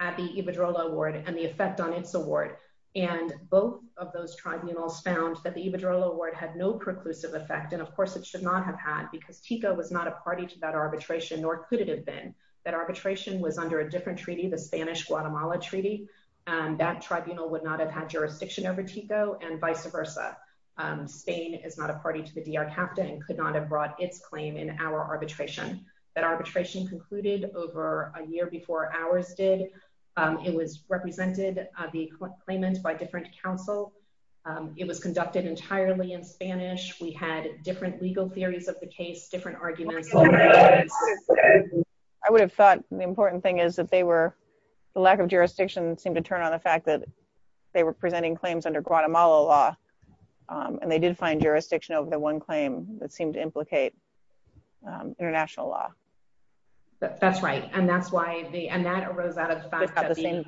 at the EVADROLA award and the effect on its award. And both of those tribunals found that the EVADROLA award had no preclusive effect. And of course it should not have had, because TICA was not a party to that arbitration, nor could it have been. That arbitration was under a different treaty, the Spanish Guatemala treaty. That tribunal would not have had jurisdiction over TICO and vice versa. Spain is not a party to the DRCAPTA and could not have brought its claim in our arbitration. That arbitration concluded over a year before ours did. It was represented the claimant by different councils. It was conducted entirely in Spanish. We had different legal theories of the case, different arguments. I would have thought the important thing is that the lack of jurisdiction seemed to turn on the fact that they were presenting claims under Guatemala law. And they did find jurisdiction over the one claim that seemed to implicate international law. That's right. And that arose out of the fact that it wasn't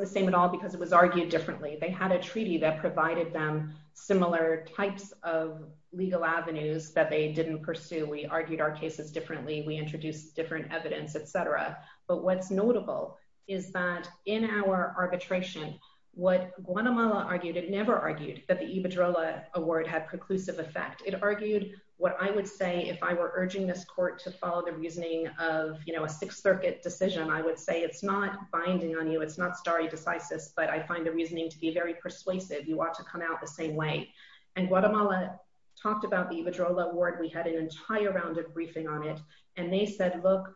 the same at all because it was argued differently. They had a treaty that provided them similar types of legal avenues that they didn't pursue. We argued our cases differently. We introduced different evidence, et cetera. But what's notable is that in our arbitration, what Guatemala argued, it never argued that the Ibadrola award had preclusive effect. It argued what I would say if I were urging this court to follow the reasoning of a Sixth Circuit decision, I would say it's not binding on you. It's not starry besides this, but I find the reasoning to be very persuasive. You ought to come out the same way. And Guatemala talked about the Ibadrola award. We had an entire round of briefing on it. And they said, look,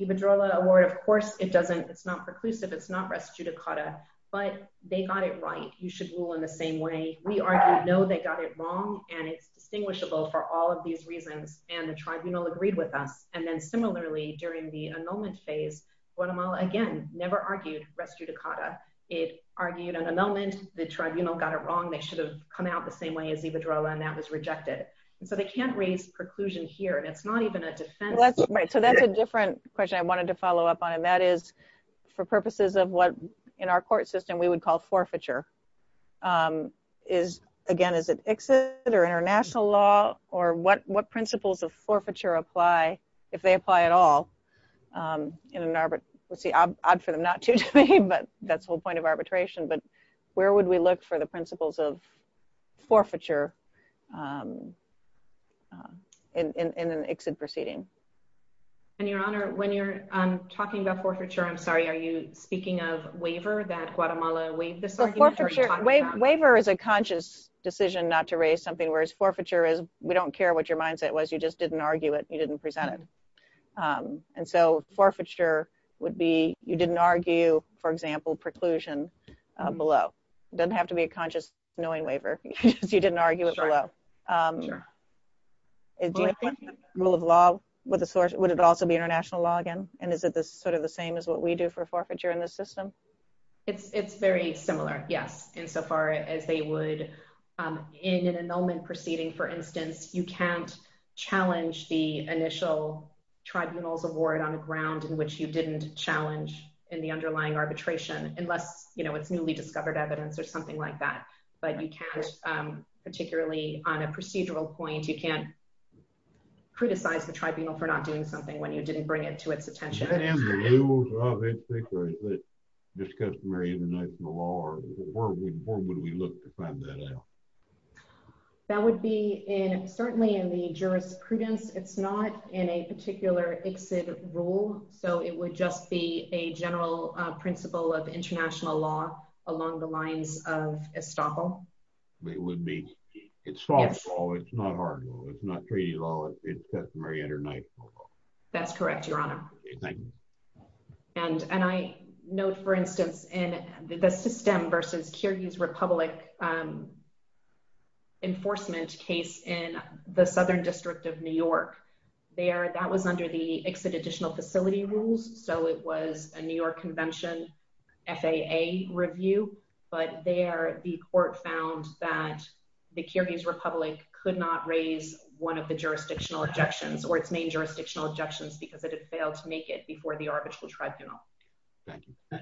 Ibadrola award, of course, it's not preclusive. It's not res judicata, but they got it right. You should rule in the same way. We argued no, they got it wrong. And it's distinguishable for all of these reasons. And the tribunal agreed with them. And then similarly during the annulment phase, Guatemala again, never argued res judicata. It argued an annulment. The tribunal got it wrong. They should have come out the same way as Ibadrola and that was rejected. But they can't raise preclusion here. And it's not even a defense. Right. So that's a different question I wanted to follow up on. And that is for purposes of what in our court system we would call forfeiture. Again, is it exit or international law? Or what principles of forfeiture apply if they apply at all? Let's see, odd for them not to, but that's the whole point of arbitration. But where would we look for the principles of forfeiture in an exit proceeding? And Your Honor, when you're talking about forfeiture, I'm sorry, are you speaking of waiver that Guatemala waived? Waiver is a conscious decision not to raise something, whereas forfeiture is, we don't care what your mindset was. You just didn't argue it. You didn't present it. And so forfeiture would be, you didn't argue, for example, preclusion below. Doesn't have to be a conscious knowing waiver if you didn't argue it below. That's right. That's right. Is the rule of law, would it also be international law again? And is it sort of the same as what we do for forfeiture in this system? It's very similar, yes, insofar as they would, in an annulment proceeding, for instance, you can't initial tribunal's award on the ground in which you didn't challenge in the underlying arbitration, unless, you know, it's newly discovered evidence or something like that. But you can't, particularly on a procedural point, you can't criticize the tribunal for not doing something when you didn't bring it to its attention. Is that an annulment of exit, or is it just customary international law? Where would we look to find that out? That would be in, certainly in the jurisprudence. It's not in a particular exit rule. So it would just be a general principle of international law along the lines of estoppel. It would be, it's false law, it's not hard law, it's not treaty law, it's customary international law. That's correct, Your Honor. Thank you. And I note, for instance, in the System v. Kyrgyz Republic enforcement case in the Southern District of New York, that was under the Exit Additional Facility Rules. So it was a New York Convention FAA review. But there, the court found that the Kyrgyz Republic could not raise one of the jurisdictional objections, or its main jurisdictional objections, because it has failed to make it before the arbitral tribunal. Thank you.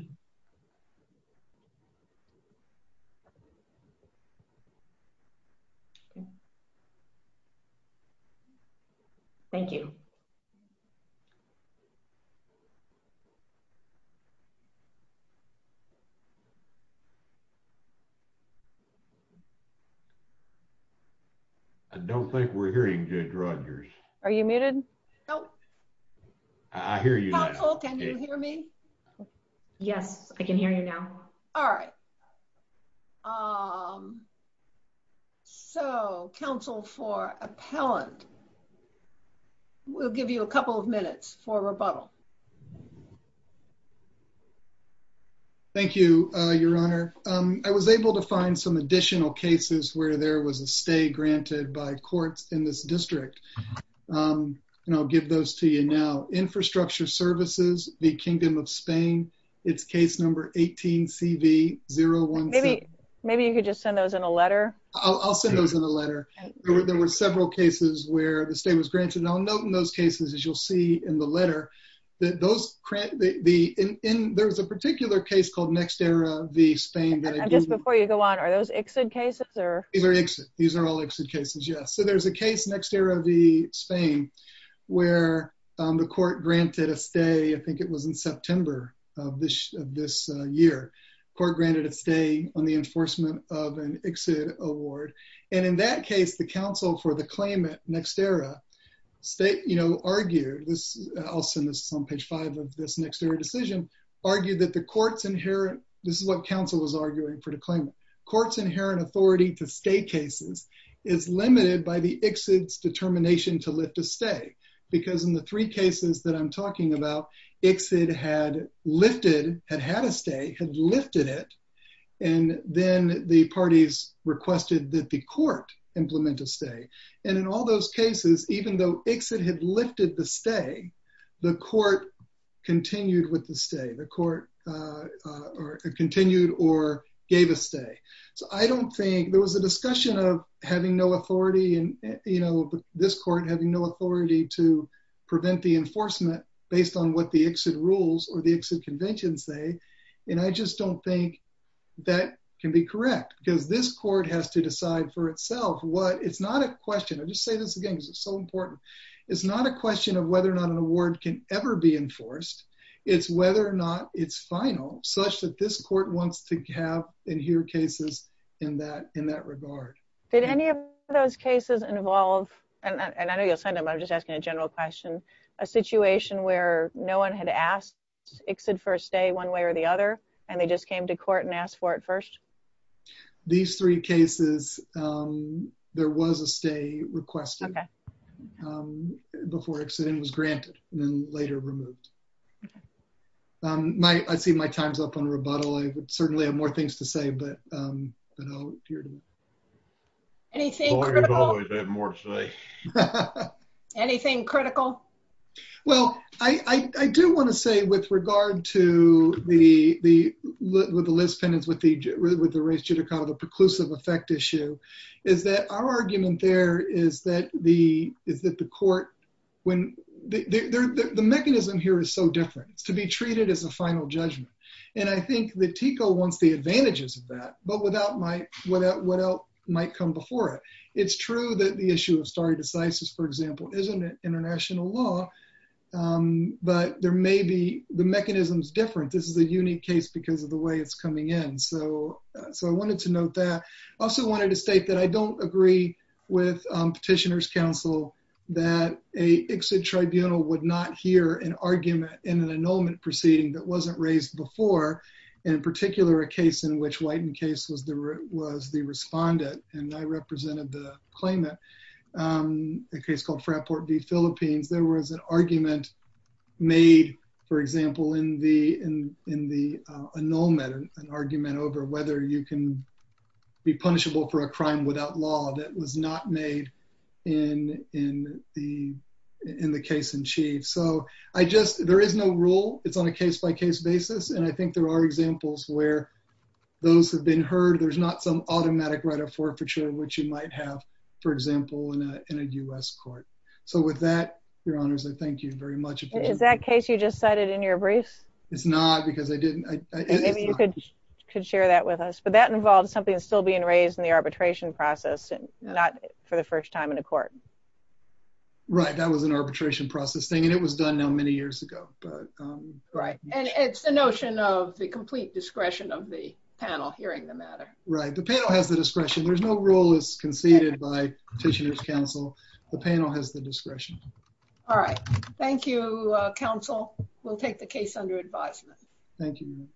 Thank you. I don't think we're hearing Judge Rogers. Are you muted? I hear you. Counsel, can you hear me? Yes, I can hear you now. All right. So, counsel for appellant, we'll give you a couple of minutes for rebuttal. Thank you, Your Honor. I was able to find some additional cases where there was a stay granted by courts in this district, and I'll give those to you now. Infrastructure Services v. Kingdom of Spain. It's case number 18-CV-014. Maybe you could just send those in a letter. I'll send those in a letter. There were several cases where the stay was granted. I'll note in those cases, as you'll see in the letter, that those, there's a particular case called Next Era v. Spain. And just before you go on, are those exit cases? These are exit. These are all exit cases, yes. There's a case, Next Era v. Spain, where the court granted a stay, I think it was in September of this year, the court granted a stay on the enforcement of an exit award. And in that case, the counsel for the claimant, Next Era, argued, I'll send this on page five of this Next Era decision, argued that the court's inherent, this is what counsel was arguing for the claimant, court's inherent authority to stay cases is limited by the exit's determination to lift a stay. Because in the three cases that I'm talking about, exit had lifted, had had a stay, had lifted it, and then the parties requested that the court implement a stay. And in all those cases, even though exit had lifted the stay, the court continued with the stay. The court continued or gave a stay. So I don't think, there was a discussion of having no authority and, you know, this court having no authority to prevent the enforcement based on what the exit rules or the exit conventions say, and I just don't think that can be correct. Because this court has to decide for itself what, it's not a question, I'll just say this again because it's so important. It's not a question of whether or not an award can ever be enforced, it's whether or not it's final, such that this court wants to have and hear cases in that regard. Did any of those cases involve, and I know you'll send them, I'm just asking a general question, a situation where no one had asked exit for a stay one way or the other, and they just came to court and asked for it first? These three cases, there was a stay requested before exit was granted and then later removed. I see my time's up on rebuttal. I certainly have more things to say, but I'll leave it to you. Anything critical? I thought we had more to say. Anything critical? Well, I do want to say with regard to the, with the list pending with the race judicata, the preclusive effect issue, is that our argument there is that the court, when, the mechanism here is so different, to be treated as a final judgment. And I think that TICO wants the advantages of that, but without my, without what else might come before it. It's true that the issue of stare decisis, for example, isn't an international law, but there may be, the mechanism's different. This is a unique case because of the way it's coming in. So, so I wanted to note that. I also wanted to state that I don't agree with petitioner's counsel that a exit tribunal would not hear an argument in an annulment proceeding that wasn't raised before, in particular, a case in which White and Case was the, was the respondent, and I represented the claimant, a case called Frat Port v. Philippines. There was an argument made, for example, in the, in the annulment, an argument over whether you can be punishable for a crime without law that was not made in, in the, in the case in chief. So, I just, there is no rule. It's on a case-by-case basis, and I think there are examples where those have been heard. There's not some automatic right of forfeiture, which you might have, for example, in a U.S. court. So, with that, your honors, I thank you very much. Is that case you just cited in your brief? It's not because I didn't. Maybe you could, could share that with us, but that involves something still being raised in the arbitration process, and not for the first time in a court. Right, that was an arbitration process thing, and it was done now many years ago. Right, and it's the notion of the complete discretion of the panel hearing the matter. Right, the panel has the discretion. There's no rule that's conceded by petitioner's counsel. The panel has the discretion. All right. Thank you, counsel. We'll take the case under advisement. Thank you.